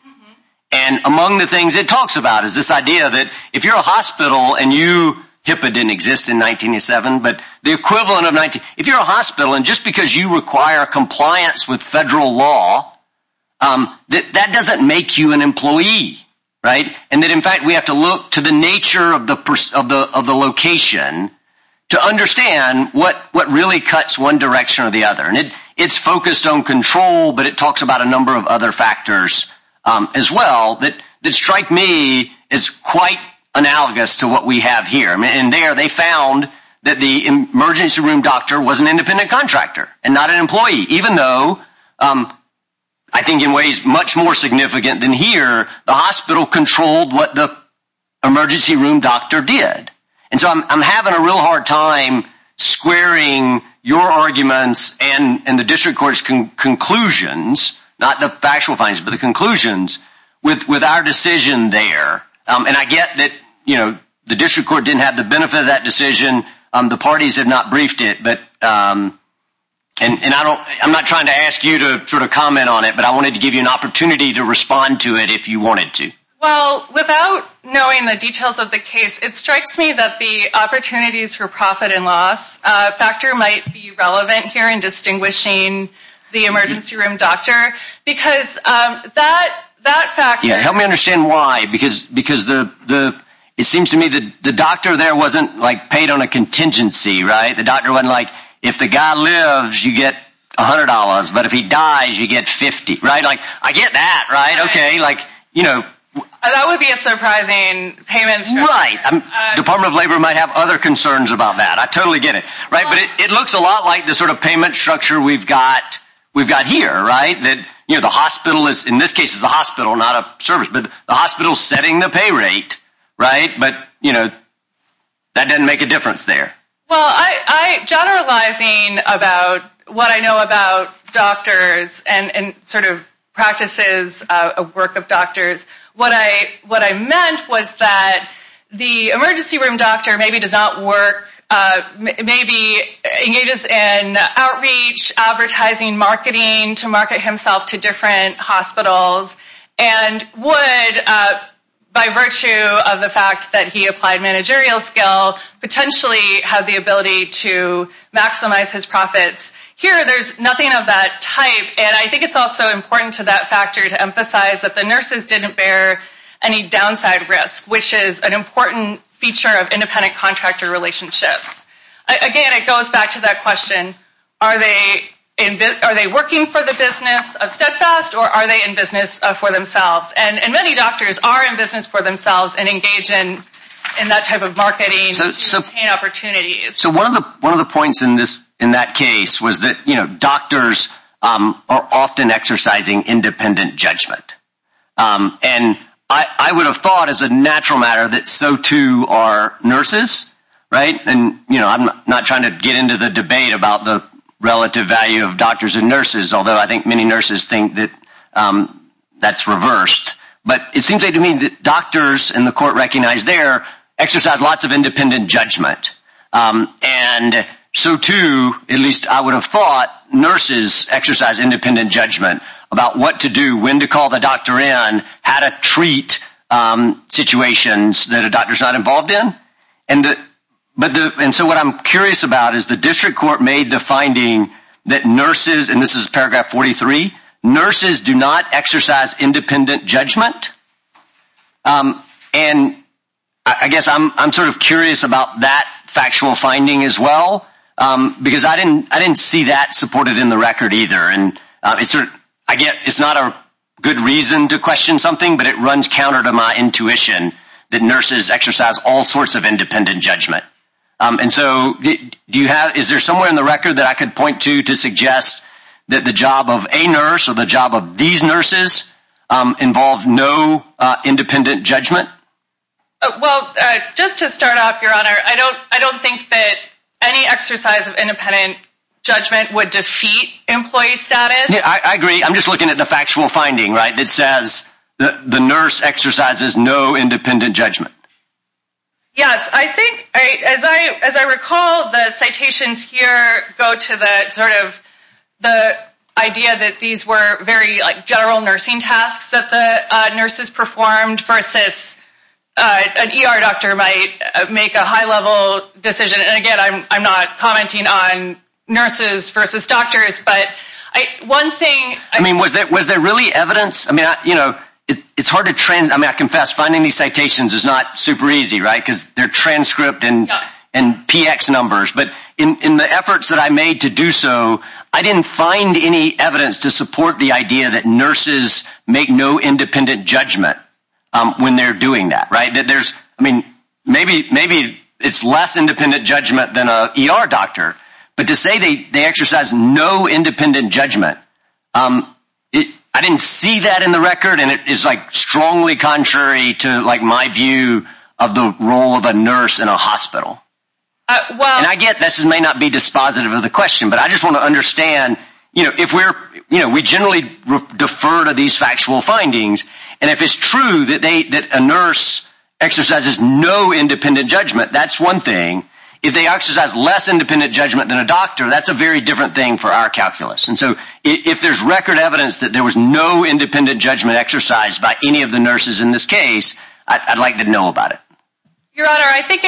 And among the things it talks about is this idea that if you're a hospital and you – HIPAA didn't exist in 1997, but the equivalent of 19 – if you're a hospital and just because you require compliance with federal law, that doesn't make you an employee, right? And that, in fact, we have to look to the nature of the location to understand what really cuts one direction or the other. And it's focused on control, but it talks about a number of other factors as well that strike me as quite analogous to what we have here. And there they found that the emergency room doctor was an independent contractor and not an employee, even though I think in ways much more significant than here, the hospital controlled what the emergency room doctor did. And so I'm having a real hard time squaring your arguments and the district court's conclusions, not the factual findings, but the conclusions, with our decision there. And I get that the district court didn't have the benefit of that decision. The parties have not briefed it. And I'm not trying to ask you to comment on it, but I wanted to give you an opportunity to respond to it if you wanted to. Well, without knowing the details of the case, it strikes me that the opportunities for profit and loss factor might be relevant here in distinguishing the emergency room doctor Help me understand why. Because it seems to me the doctor there wasn't paid on a contingency. The doctor wasn't like, if the guy lives, you get $100, but if he dies, you get $50. I get that, right? That would be a surprising payment structure. Right. The Department of Labor might have other concerns about that. I totally get it. But it looks a lot like the sort of payment structure we've got here, right? In this case, it's the hospital, not a service. The hospital's setting the pay rate, right? But that doesn't make a difference there. Well, generalizing about what I know about doctors and sort of practices of work of doctors, what I meant was that the emergency room doctor maybe does not work. Maybe engages in outreach, advertising, marketing to market himself to different hospitals and would, by virtue of the fact that he applied managerial skills, potentially have the ability to maximize his profits. Here, there's nothing of that type, and I think it's also important to that factor to emphasize that the nurses didn't bear any downside risk, which is an important feature of independent contractor relationships. Again, it goes back to that question, are they working for the business of Steadfast or are they in business for themselves? And many doctors are in business for themselves and engage in that type of marketing to obtain opportunities. One of the points in that case was that doctors are often exercising independent judgment. And I would have thought as a natural matter that so too are nurses, right? And I'm not trying to get into the debate about the relative value of doctors and nurses, although I think many nurses think that that's reversed. But it seems to me that doctors, and the court recognized there, exercise lots of independent judgment. And so too, at least I would have thought, nurses exercise independent judgment about what to do, when to call the doctor in, how to treat situations that a doctor's not involved in. And so what I'm curious about is the district court made the finding that nurses, and this is paragraph 43, nurses do not exercise independent judgment. And I guess I'm sort of curious about that factual finding as well, because I didn't see that supported in the record either. And I guess it's not a good reason to question something, but it runs counter to my intuition that nurses exercise all sorts of independent judgment. And so is there somewhere in the record that I could point to to suggest that the job of a nurse or the job of these nurses involves no independent judgment? I don't think that any exercise of independent judgment would defeat employee status. I agree. I'm just looking at the factual finding, right, that says the nurse exercises no independent judgment. Yes. I think, as I recall, the citations here go to sort of the idea that these were very general nursing tasks that the nurses performed versus an ER doctor might make a high-level decision. And, again, I'm not commenting on nurses versus doctors, but one thing ‑‑ I mean, was there really evidence? I mean, it's hard to ‑‑ I mean, I confess, finding these citations is not super easy, right, because they're transcript and PX numbers. But in the efforts that I made to do so, I didn't find any evidence to support the idea that nurses make no independent judgment when they're doing that. Right? I mean, maybe it's less independent judgment than an ER doctor. But to say they exercise no independent judgment, I didn't see that in the record, and it is, like, strongly contrary to, like, my view of the role of a nurse in a hospital. And I get this may not be dispositive of the question, but I just want to understand, you know, if we're ‑‑ you know, we generally refer to these factual findings, and if it's true that a nurse exercises no independent judgment, that's one thing. If they exercise less independent judgment than a doctor, that's a very different thing for our calculus. And so if there's record evidence that there was no independent judgment exercised by any of the nurses in this case, I'd like to know about it. Your Honor, I think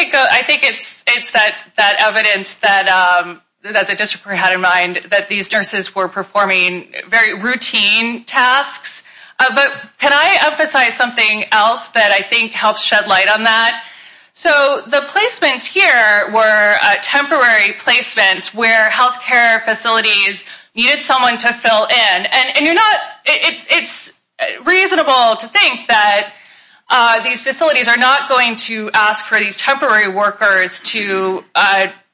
it's that evidence that the district had in mind, that these nurses were performing very routine tasks. But can I emphasize something else that I think helps shed light on that? So the placements here were temporary placements where healthcare facilities needed someone to fill in. And you're not ‑‑ it's reasonable to think that these facilities are not going to ask for these temporary workers to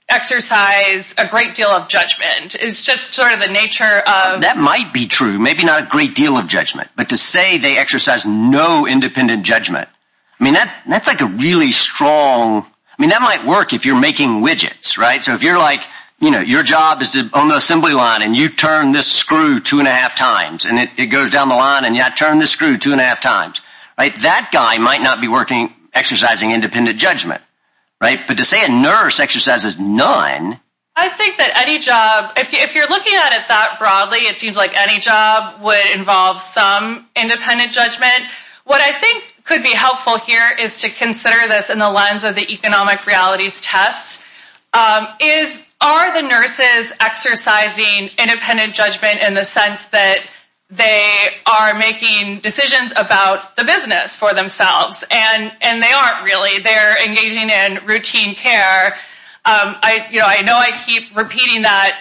exercise a great deal of judgment. It's just sort of the nature of ‑‑ That might be true, maybe not a great deal of judgment, but to say they exercise no independent judgment, I mean, that's, like, a really strong ‑‑ I mean, that might work if you're making widgets, right? So if you're, like, you know, your job is on the assembly line and you turn this screw two and a half times and it goes down the line and you have to turn this screw two and a half times, right? That guy might not be working exercising independent judgment, right? But to say a nurse exercises none. I think that any job, if you're looking at it that broadly, it seems like any job would involve some independent judgment. What I think could be helpful here is to consider this in the lens of the economic realities test. Are the nurses exercising independent judgment in the sense that they are making decisions about the business for themselves? And they aren't really. They're engaging in routine care. You know, I know I keep repeating that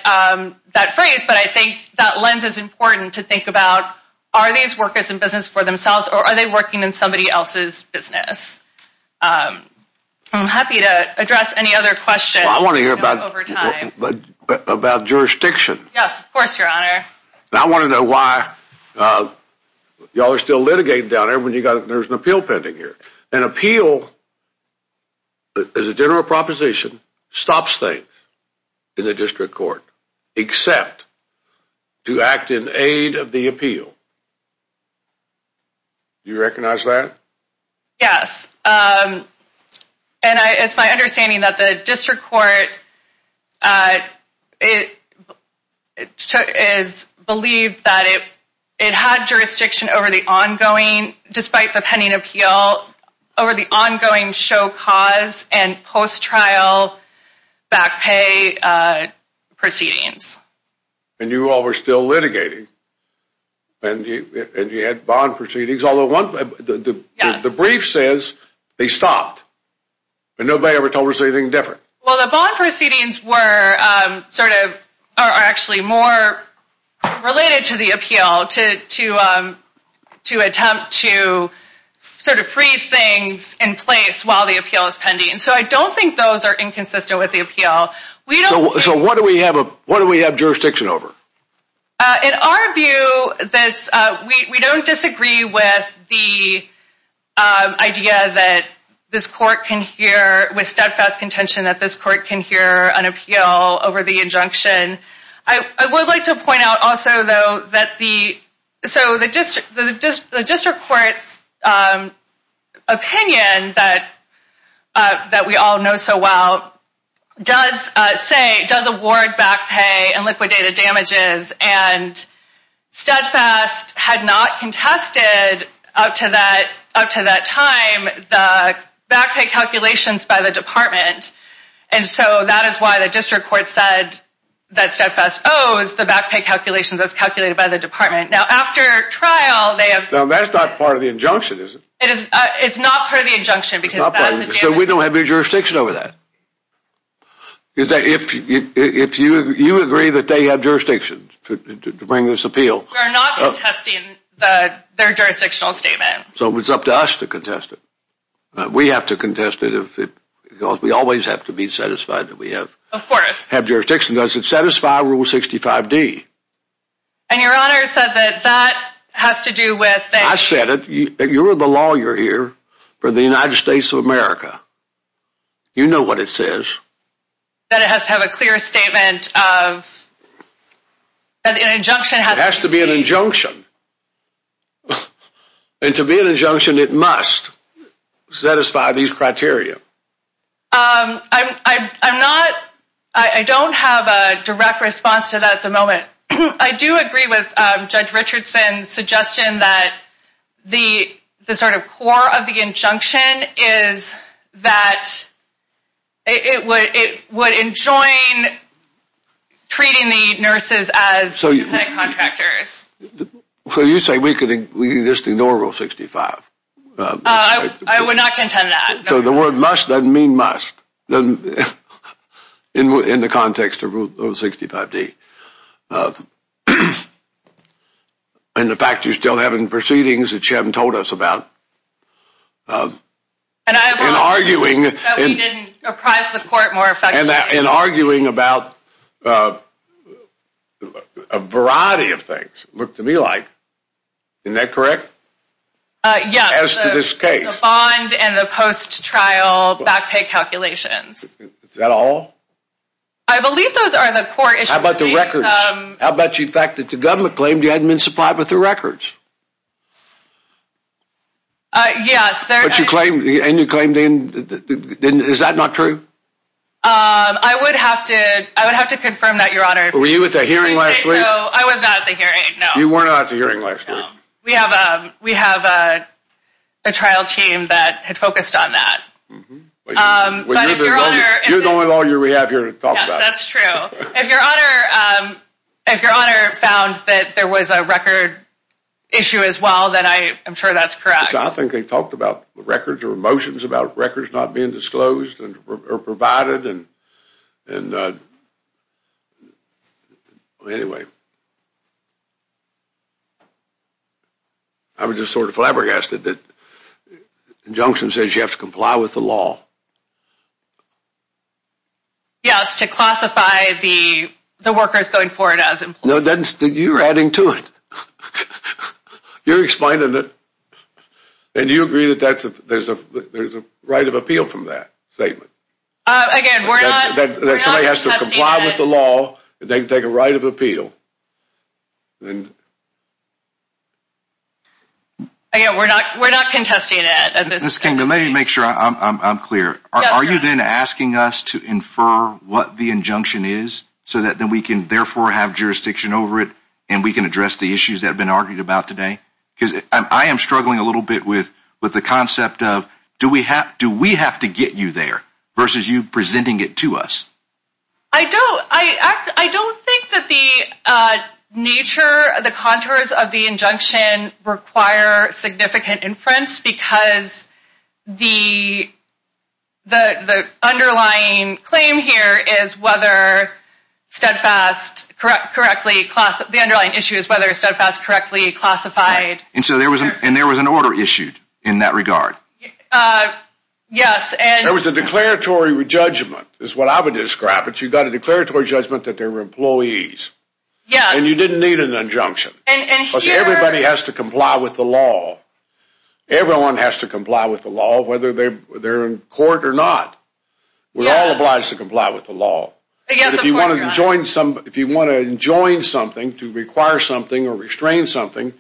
phrase, but I think that lens is important to think about. Are these workers in business for themselves or are they working in somebody else's business? I'm happy to address any other questions. Well, I want to hear about jurisdiction. Yes, of course, Your Honor. I want to know why y'all are still litigating down there when there's an appeal pending here. An appeal, as a general proposition, stops things in the district court except to act in aid of the appeal. Do you recognize that? Yes. And it's my understanding that the district court believes that it had jurisdiction over the ongoing, despite the pending appeal, over the ongoing show cause and post-trial back pay proceedings. And you all were still litigating. And you had bond proceedings. The brief says they stopped. And nobody ever told us anything different. Well, the bond proceedings are actually more related to the appeal to attempt to sort of freeze things in place while the appeal is pending. So I don't think those are inconsistent with the appeal. So what do we have jurisdiction over? In our view, we don't disagree with the idea that this court can hear with steadfast contention that this court can hear an appeal over the injunction. I would like to point out also, though, that the district court's opinion that we all know so well does award back pay and liquidated damages. And steadfast had not contested up to that time the back pay calculations by the department. And so that is why the district court said that steadfast owes the back pay calculations as calculated by the department. Now, after trial, they have... So that's not part of the injunction, is it? It's not part of the injunction because... So we don't have any jurisdiction over that? If you agree that they have jurisdiction to bring this appeal... We are not contesting their jurisdictional statement. So it's up to us to contest it. We have to contest it because we always have to be satisfied that we have jurisdiction. Does it satisfy Rule 65D? And your honor said that that has to do with... I said it. You're the lawyer here for the United States of America. You know what it says. That it has to have a clear statement of... It has to be an injunction. And to be an injunction, it must satisfy these criteria. I'm not... I don't have a direct response to that at the moment. I do agree with Judge Richardson's suggestion that the sort of core of the injunction is that it would enjoin treating the nurses as contractors. So you say we could ignore Rule 65? I would not contend that. So the word must doesn't mean must in the context of Rule 65D. And the fact that you still have proceedings that you haven't told us about. And I have... Looked to me like. Isn't that correct? Yes. As to this case. The bond and the post-trial back pay calculations. Is that all? I believe those are the four issues. How about the records? How about the fact that the government claimed you hadn't been supplied with the records? Yes. And you claimed... Is that not true? I would have to confirm that, your honor. Were you at the hearing last week? No, I was not at the hearing. You were not at the hearing last week. We have a trial team that had focused on that. You're the only lawyer we have here to talk about it. That's true. If your honor found that there was a record issue as well, then I'm sure that's correct. I think they talked about records or motions about records not being disclosed or provided. And... Anyway. I was just sort of flabbergasted that the injunction says you have to comply with the law. Yes, to classify the workers going forward as employees. No, you're adding to it. You're explaining that... And you agree that there's a right of appeal from that statement. Again, we're not contesting it. That somebody has to comply with the law and they can take a right of appeal. Again, we're not contesting it. Ms. King, let me make sure I'm clear. Are you then asking us to infer what the injunction is so that we can therefore have jurisdiction over it and we can address the issues that have been argued about today? I am struggling a little bit with the concept of do we have to get you there versus you presenting it to us. I don't think that the nature, the contours of the injunction require significant inference because the underlying claim here is whether Steadfast correctly classified... The underlying issue is whether Steadfast correctly classified... And so there was an order issued in that regard. Yes, and... There was a declaratory judgment, is what I would describe it. You got a declaratory judgment that they were employees. Yes. And you didn't need an injunction. And here... Everybody has to comply with the law. Everyone has to comply with the law, whether they're in court or not. We're all obliged to comply with the law. If you want to enjoin something, to require something or restrain something,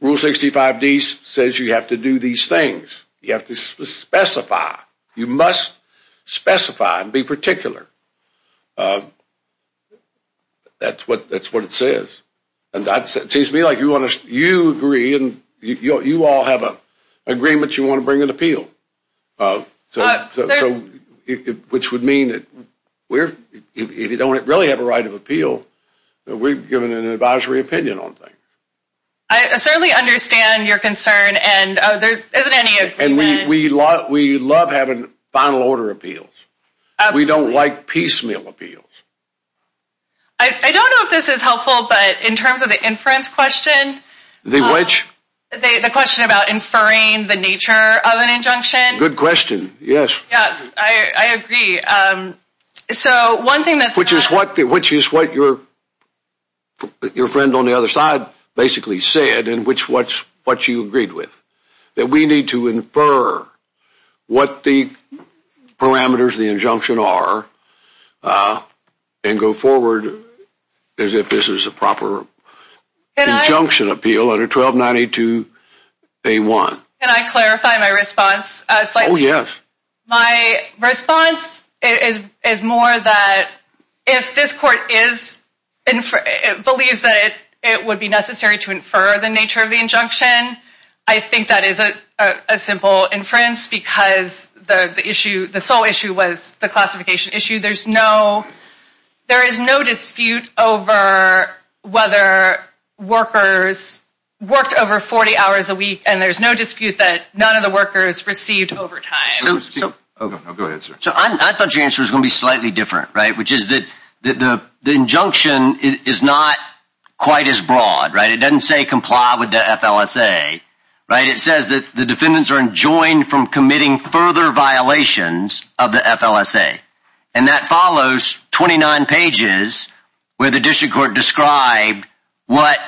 Rule 65D says you have to do these things. You have to specify. You must specify and be particular. That's what it says. And that seems to me like you agree and you all have an agreement you want to bring an appeal. Which would mean that if you don't really have a right of appeal, that we're giving an advisory opinion on things. I certainly understand your concern and there isn't any... And we love having final order appeals. We don't like piecemeal appeals. I don't know if this is helpful, but in terms of the inference question... The what? The question about inferring the nature of an injunction. Good question, yes. Yeah, I agree. So, one thing that... Which is what your friend on the other side basically said and what you agreed with. That we need to infer what the parameters of the injunction are and go forward as if this is a proper injunction appeal under 1292A1. Can I clarify my response? Oh, yes. My response is more that if this court believes that it would be necessary to infer the nature of the injunction, I think that is a simple inference because the sole issue was the classification issue. There is no dispute over whether workers worked over 40 hours a week and there is no dispute that none of the workers received overtime. Go ahead, sir. I thought your answer was going to be slightly different, right? Which is that the injunction is not quite as broad, right? It doesn't say comply with the FLSA, right? It says that the defendants are enjoined from committing further violations of the FLSA and that follows 29 pages where the district court described what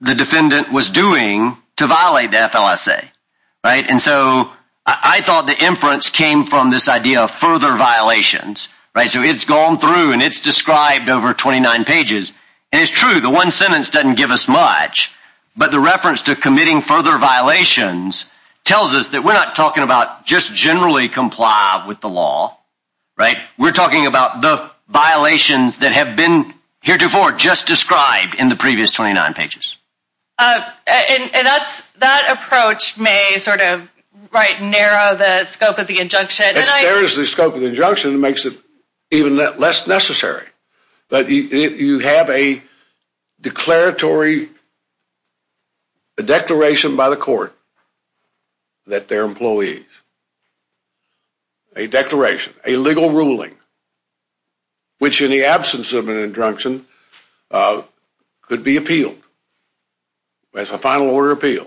the defendant was doing to violate the FLSA, right? And so, I thought the inference came from this idea of further violations, right? So, it's gone through and it's described over 29 pages. And it's true. The one sentence doesn't give us much, but the reference to committing further violations tells us that we're not talking about just generally comply with the law, right? We're talking about the violations that have been heretofore just described in the previous 29 pages. And that approach may sort of narrow the scope of the injunction. It narrows the scope of the injunction and makes it even less necessary. But you have a declaration by the court that their employees, a declaration, a legal ruling, which in the absence of an injunction could be appealed as a final order appeal.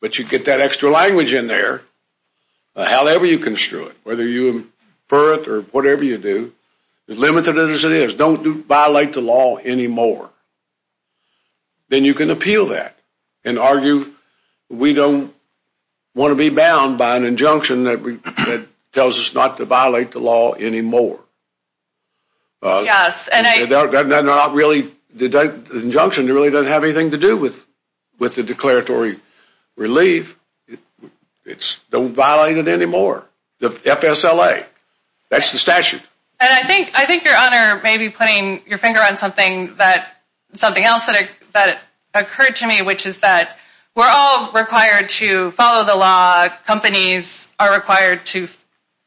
But you get that extra language in there, however you construe it, whether you infer it or whatever you do, as limited as it is, don't violate the law anymore. Then you can appeal that and argue we don't want to be bound by an injunction that tells us not to violate the law anymore. Yes, and I... The injunction really doesn't have anything to do with the declaratory relief. Don't violate it anymore. The FSLA. That's the statute. And I think your Honor may be putting your finger on something else that occurred to me, which is that we're all required to follow the law. Companies are required to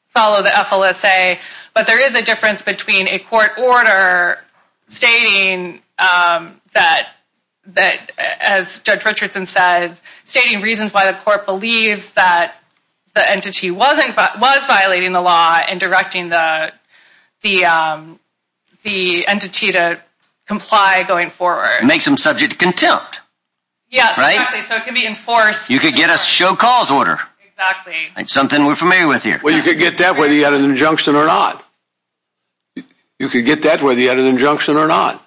follow the FLSA. But there is a difference between a court order stating that, as Judge Richardson said, and stating reasons why the court believes that the entity was violating the law and directing the entity to comply going forward. It makes them subject to contempt. Yes, exactly. So it can be enforced. You could get a show-calls order. Exactly. It's something we're familiar with here. Well, you could get that whether you had an injunction or not. You could get that whether you had an injunction or not.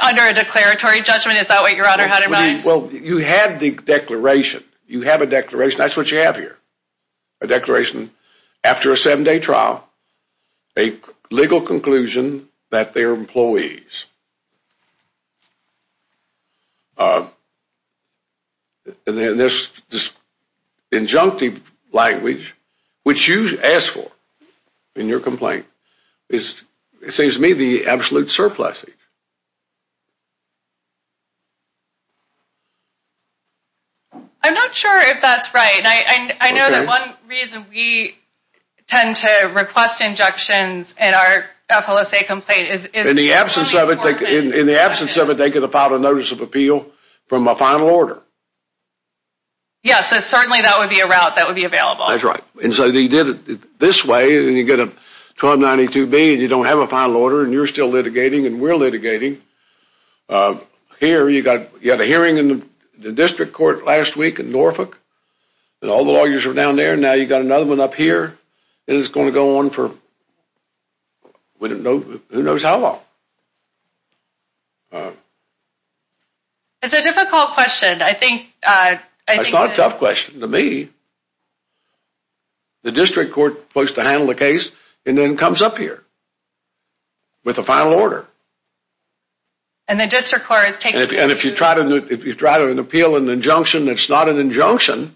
Under a declaratory judgment, is that what your Honor had in mind? Well, you have the declaration. You have a declaration. That's what you have here. A declaration after a seven-day trial. A legal conclusion that they're employees. And then there's injunctive language, which you asked for in your complaint. It seems to me the absolute surpluses. I'm not sure if that's right. I know that one reason we tend to request injunctions in our FLSA complaint is because of the court's decision. In the absence of it, they could have filed a notice of appeal from a final order. Yes, certainly that would be a route that would be available. That's right. And so they did it this way, and you get a 1292B, and you don't have a final order, and you're still litigating, and we're litigating. Here, you had a hearing in the district court last week in Norfolk, and all the lawyers were down there. Now you've got another one up here, and it's going to go on for who knows how long. It's a difficult question. It's not a tough question to me. The district court is supposed to handle the case, and then it comes up here with a final order. And if you try to appeal an injunction that's not an injunction,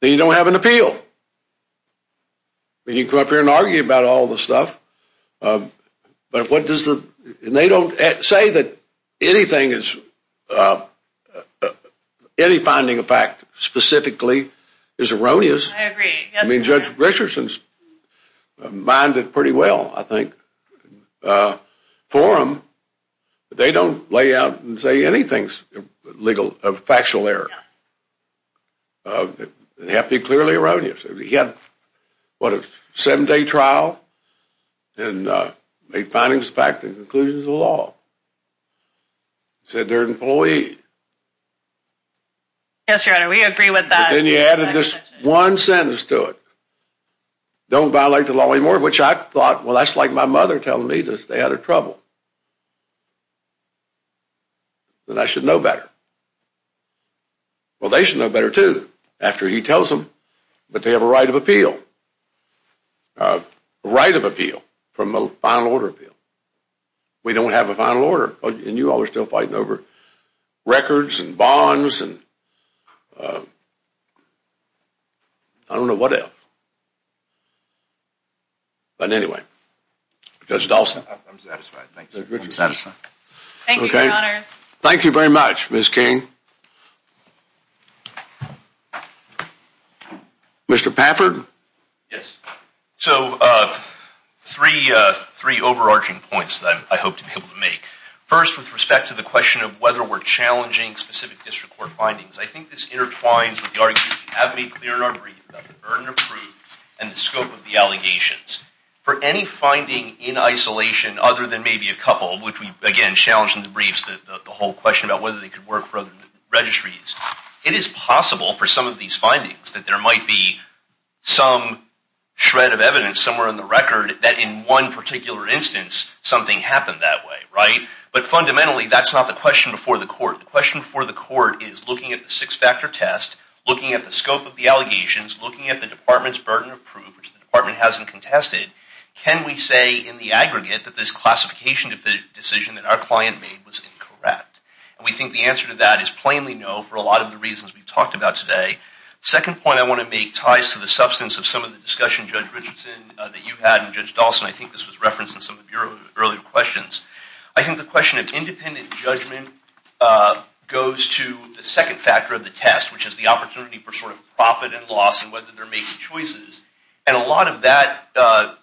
then you don't have an appeal. You can come up here and argue about all the stuff, and they don't say that any finding of fact specifically is erroneous. I agree. I mean, Judge Richardson's mind it pretty well, I think. For them, they don't lay out and say anything's factual error. They have to be clearly erroneous. He had, what, a seven-day trial, and the findings of fact, the conclusions of the law. He said they're employees. Yes, Your Honor, we agree with that. Then he added this one sentence to it. Don't violate the law anymore, which I thought, well, that's like my mother telling me that they had her troubled. That I should know better. Well, they should know better, too, after he tells them that they have a right of appeal. A right of appeal from a final order appeal. We don't have a final order, and you all are still fighting over records and bonds. I don't know what else. But anyway, Judge Dawson. I'm satisfied. Thank you. Thank you, Your Honor. Thank you very much, Ms. King. Mr. Pafford? Yes. So, three overarching points that I hope to be able to make. First, with respect to the question of whether we're challenging specific district court findings, I think this intertwines with the arguments we have made clear in our briefs, Dr. Byrne approved, and the scope of the allegations. For any finding in isolation, other than maybe a couple, which we, again, challenged in the briefs, the whole question about whether they could work for other registries, it is possible for some of these findings that there might be some shred of evidence, somewhere in the record, that in one particular instance, something happened that way, right? But fundamentally, that's not the question before the court. The question before the court is, looking at the six-factor test, looking at the scope of the allegations, looking at the department's burden of proof, the department hasn't contested, can we say in the aggregate that this classification decision that our client made was incorrect? And we think the answer to that is plainly no, for a lot of the reasons we've talked about today. Second point I want to make ties to the substance of some of the discussion, Judge Richardson, that you had, and Judge Dawson, I think this was referenced in some of your earlier questions. I think the question of independent judgment goes to the second factor of the test, which is the opportunity for sort of profit and loss, and whether they're making choices. And a lot of that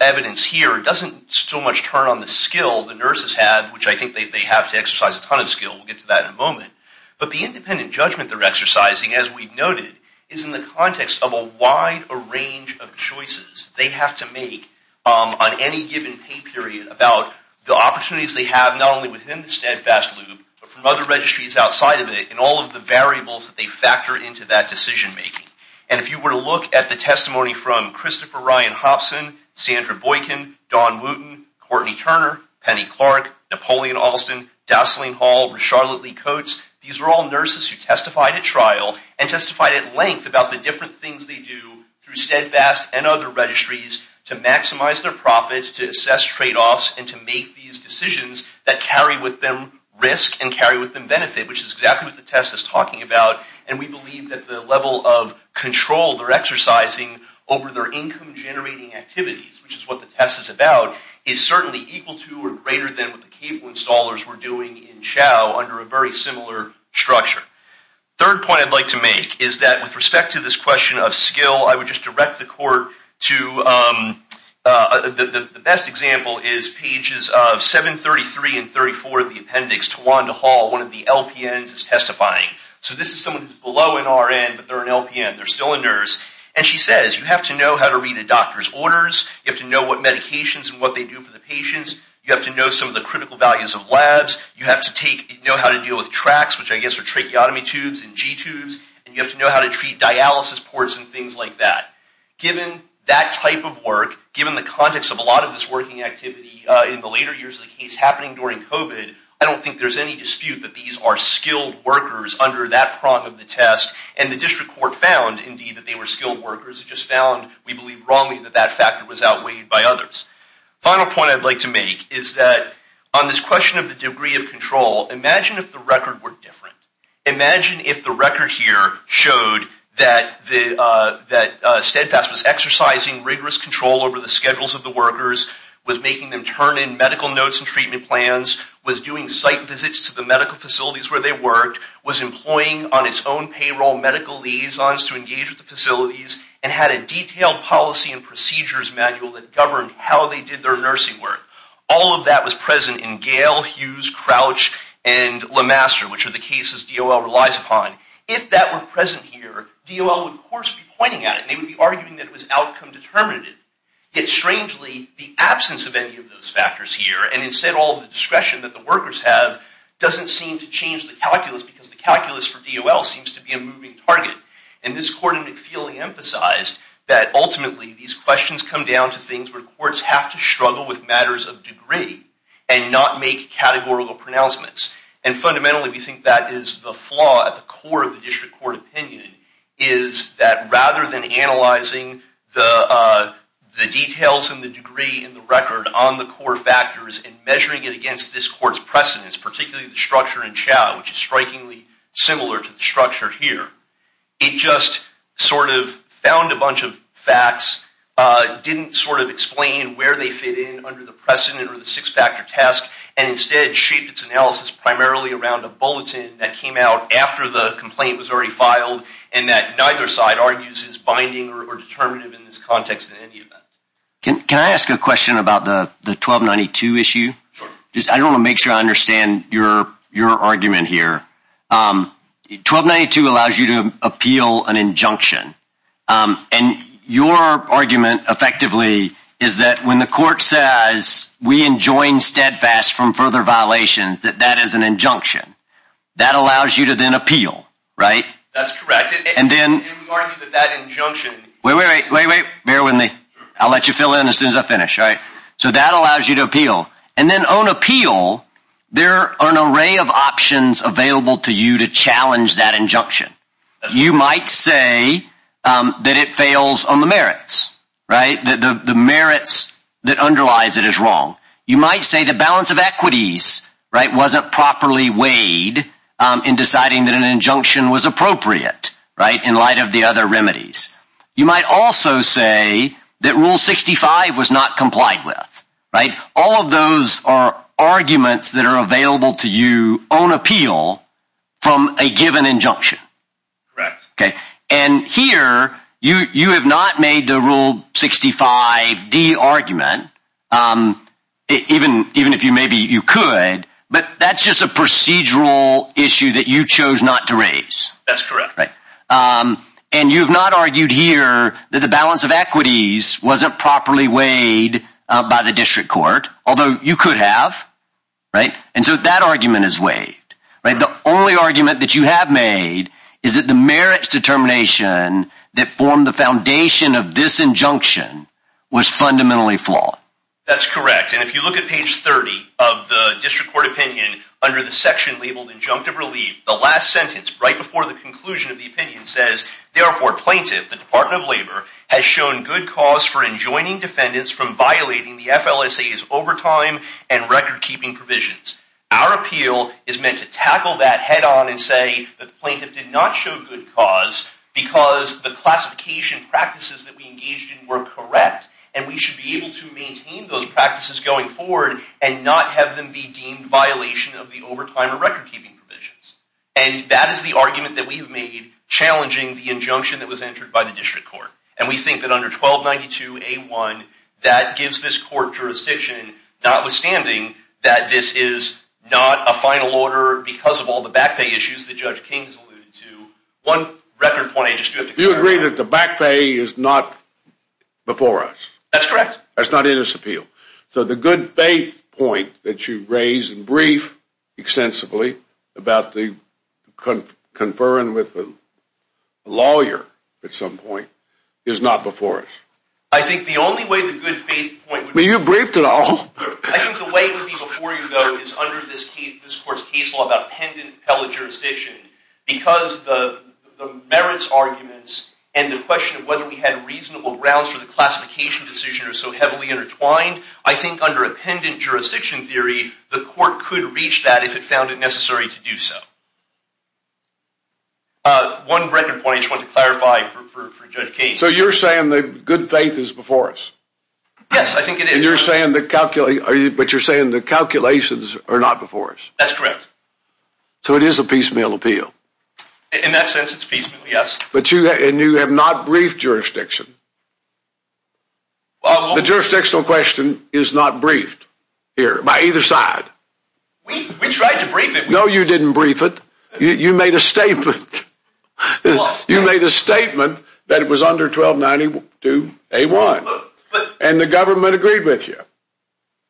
evidence here doesn't so much turn on the skill the nurses have, which I think they have to exercise a ton of skill, we'll get to that in a moment, but the independent judgment they're exercising, as we've noted, is in the context of a wide range of choices they have to make on any given pay period about the opportunities they have not only within the steadfast loop, but from other registries outside of it, and all of the variables that they factor into that decision-making. And if you were to look at the testimony from Christopher Ryan Hopson, Sandra Boykin, Don Wooten, Courtney Turner, Penny Clark, Napoleon Alston, Dowsling Hall, Charlotte Lee Coates, these were all nurses who testified at trial and testified at length about the different things they do through steadfast and other registries to maximize their profits, to assess trade-offs, and to make these decisions that carry with them risk and carry with them benefit, which is exactly what the test is talking about. And we believe that the level of control they're exercising over their income-generating activities, which is what the test is about, is certainly equal to or greater than what the cable installers were doing in Chow under a very similar structure. The third point I'd like to make is that with respect to this question of skill, I would just direct the court to the best example is pages of 733 and 734 of the appendix. Tawanda Hall, one of the LPNs, is testifying. So this is someone below an RN, but they're an LPN. They're still a nurse. And she says, you have to know how to read a doctor's orders. You have to know what medications and what they do for the patients. You have to know some of the critical values of labs. You have to know how to deal with tracts, which I guess are tracheotomy tubes and G-tubes. And you have to know how to treat dialysis ports and things like that. Given that type of work, given the context of a lot of this working activity in the later years that keeps happening during COVID, I don't think there's any dispute that these are skilled workers under that prong of the test. And the district court found, indeed, that they were skilled workers. It just found, we believe wrongly, that that factor was outweighed by others. The final point I'd like to make is that on this question of the degree of control, imagine if the record were different. Imagine if the record here showed that Steadfast was exercising rigorous control over the schedules of the workers, was making them turn in medical notes and treatment plans, was doing site visits to the medical facilities where they worked, was employing on its own payroll medical liaisons to engage with the facilities, and had a detailed policy and procedures manual that governed how they did their nursing work. All of that was present in Gale, Hughes, Crouch, and LeMaster, which are the cases DOL relies upon. If that were present here, DOL would, of course, be pointing at it. They would be arguing that it was outcome determinative. Yet, strangely, the absence of any of those factors here, and instead all of the discretion that the workers have, doesn't seem to change the calculus because the calculus for DOL seems to be a moving target. And this court, I think, clearly emphasized that, ultimately, these questions come down to things where courts have to struggle with matters of degree and not make categorical pronouncements. And fundamentally, we think that is the flaw at the core of the district court opinion, is that rather than analyzing the details and the degree in the record on the core factors and measuring it against this court's precedents, particularly the structure in Chow, which is strikingly similar to the structure here, it just sort of found a bunch of facts, didn't sort of explain where they fit in under the precedent or the six-factor test, and instead shaped its analysis primarily around a bulletin that came out after the complaint was already filed, and that neither side argues is binding or determinative in this context in any of that. Can I ask a question about the 1292 issue? Sure. I just want to make sure I understand your argument here. 1292 allows you to appeal an injunction. And your argument, effectively, is that when the court says, we enjoin steadfast from further violations, that that is an injunction. That allows you to then appeal, right? That's correct. And then— It was argued that that injunction— Wait, wait, wait. Bear with me. I'll let you fill in as soon as I finish, all right? So that allows you to appeal. And then on appeal, there are an array of options available to you to challenge that injunction. You might say that it fails on the merits, right, that the merits that underlies it is wrong. You might say the balance of equities, right, wasn't properly weighed in deciding that an injunction was appropriate, right, in light of the other remedies. You might also say that Rule 65 was not complied with, right? All of those are arguments that are available to you on appeal from a given injunction. Correct. And here, you have not made the Rule 65d argument, even if maybe you could, but that's just a procedural issue that you chose not to raise. That's correct. And you've not argued here that the balance of equities wasn't properly weighed by the district court, although you could have, right? And so that argument is weighed. The only argument that you have made is that the merits determination that formed the foundation of this injunction was fundamentally flawed. That's correct. And if you look at page 30 of the district court opinion, under the section labeled injunctive relief, the last sentence right before the conclusion of the opinion says, therefore plaintiff, the Department of Labor, has shown good cause for enjoining defendants from violating the FLSA's overtime and record-keeping provisions. Our appeal is meant to tackle that head-on and say the plaintiff did not show good cause because the classification practices that we engaged in were correct and we should be able to maintain those practices going forward and not have them be deemed violation of the overtime or record-keeping provisions. And that is the argument that we've made challenging the injunction that was entered by the district court. And we think that under 1292A1, that gives this court jurisdiction, notwithstanding that this is not a final order because of all the back pay issues that Judge King alluded to. One record point I just want to make. You agree that the back pay is not before us. That's correct. That's not in this appeal. So the good faith point that you raised and briefed extensively about the conferring with the lawyer at some point is not before us. I think the only way the good faith point would be— Well, you briefed it all. I think the way it would be before you, though, is under this court's case law about appended appellate jurisdiction because the merits arguments and the question of whether we had reasonable grounds for the classification decision are so heavily intertwined. I think under appended jurisdiction theory, the court could reach that if it found it necessary to do so. One record point I just want to clarify for Judge Case. So you're saying the good faith is before us? Yes, I think it is. And you're saying the calculations are not before us? That's correct. So it is a piecemeal appeal? In that sense, it's piecemeal, yes. And you have not briefed jurisdiction? The jurisdictional question is not briefed here by either side. We tried to brief it. No, you didn't brief it. You made a statement. You made a statement that it was under 1292A1. And the government agreed with you.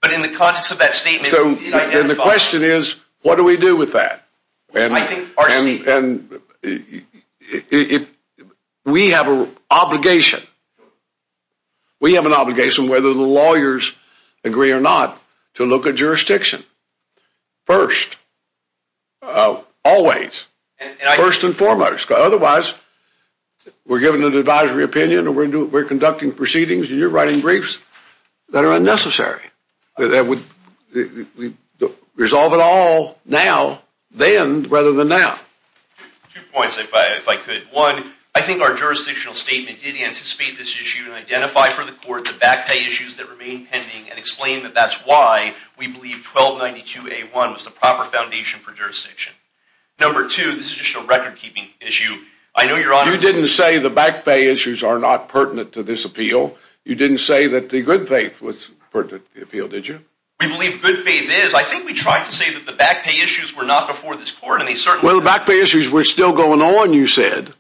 But in the context of that statement. The question is, what do we do with that? We have an obligation, whether the lawyers agree or not, to look at jurisdiction first. Always. First and foremost. Otherwise, we're giving an advisory opinion and we're conducting proceedings and you're writing briefs that are unnecessary. We resolve it all now, then, rather than now. Two points, if I could. One, I think our jurisdictional statement did anticipate this issue and identify for the court the backdate issues that remain pending and explain that that's why we believe 1292A1 was the proper foundation for jurisdiction. Number two, this is just a recordkeeping issue. You didn't say the backdate issues are not pertinent to this appeal. You didn't say that the good faith was pertinent to the appeal, did you? We believe good faith is. I think we tried to say that the backdate issues were not before this court. Well, the backdate issues were still going on, you said.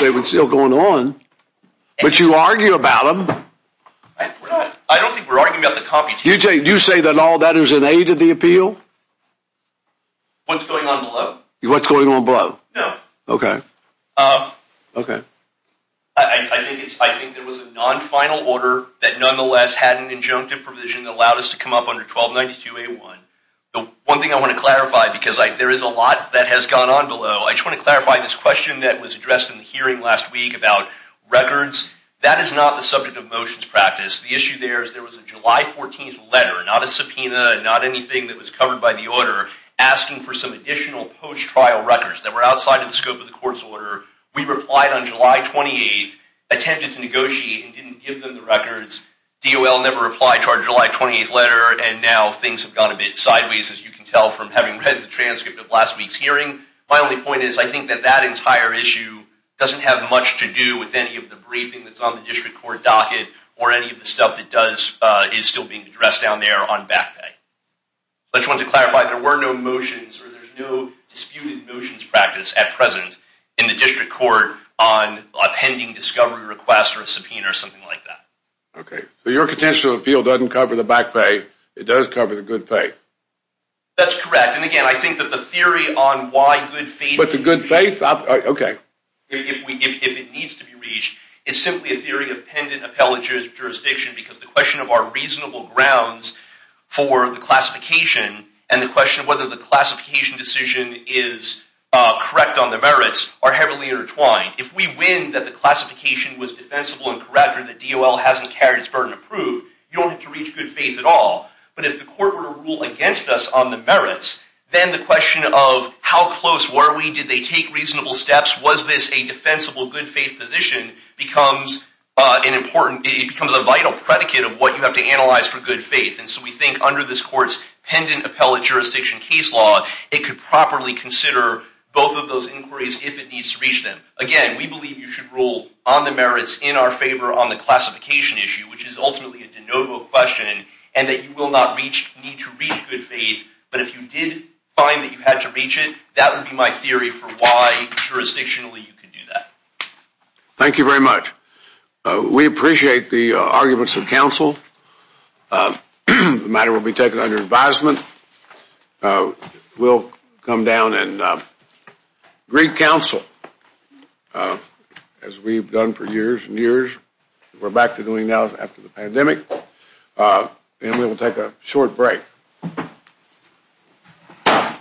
They were still going on. But you argue about them. I don't think we're arguing about the competition. You say that all that is in aid of the appeal? What's going on below? What's going on below? No. Okay. Okay. I think it was a non-final order that, nonetheless, had an injunctive provision that allowed us to come up under 1292A1. One thing I want to clarify, because there is a lot that has gone on below, I just want to clarify this question that was addressed in the hearing last week about records. That is not the subject of motions practice. The issue there is there was a July 14th letter, not a subpoena, not anything that was covered by the order, asking for some additional post-trial records that were outside the scope of the court's order. We replied on July 28th, attempted to negotiate and didn't give them the records. DOL never replied to our July 28th letter, and now things have gone a bit sideways, as you can tell, from having read the transcript of last week's hearing. My only point is I think that that entire issue doesn't have much to do with any of the briefing that's on the district court docket or any of the stuff that is still being addressed down there on back pay. I just wanted to clarify, there were no motions, or there's no disputed motions practice at present in the district court on a pending discovery request or a subpoena or something like that. Okay. So your potential appeal doesn't cover the back pay. It does cover the good pay. That's correct. And again, I think that the theory on why good faith... But the good faith, okay. If it needs to be reached, it's simply a theory of pending appellate jurisdiction because the question of our reasonable grounds for the classification and the question of whether the classification decision is correct on the merits are heavily intertwined. If we win that the classification was defensible and correct or the DOL hasn't carried its burden of proof, you don't have to reach good faith at all. But if the court were to rule against us on the merits, then the question of how close were we, did they take reasonable steps, was this a defensible good faith position becomes a vital predicate of what you have to analyze for good faith. And so we think under this court's pending appellate jurisdiction case law, it could properly consider both of those inquiries if it needs to reach them. Again, we believe you should rule on the merits in our favor on the classification issue, which is ultimately a de novo question, and that you will not need to reach good faith. But if you did find that you had to reach it, that would be my theory for why jurisdictionally you could do that. Thank you very much. We appreciate the arguments of counsel. The matter will be taken under advisement. We'll come down and greet counsel, as we've done for years and years. We're back to doing that after the pandemic. And we will take a short break.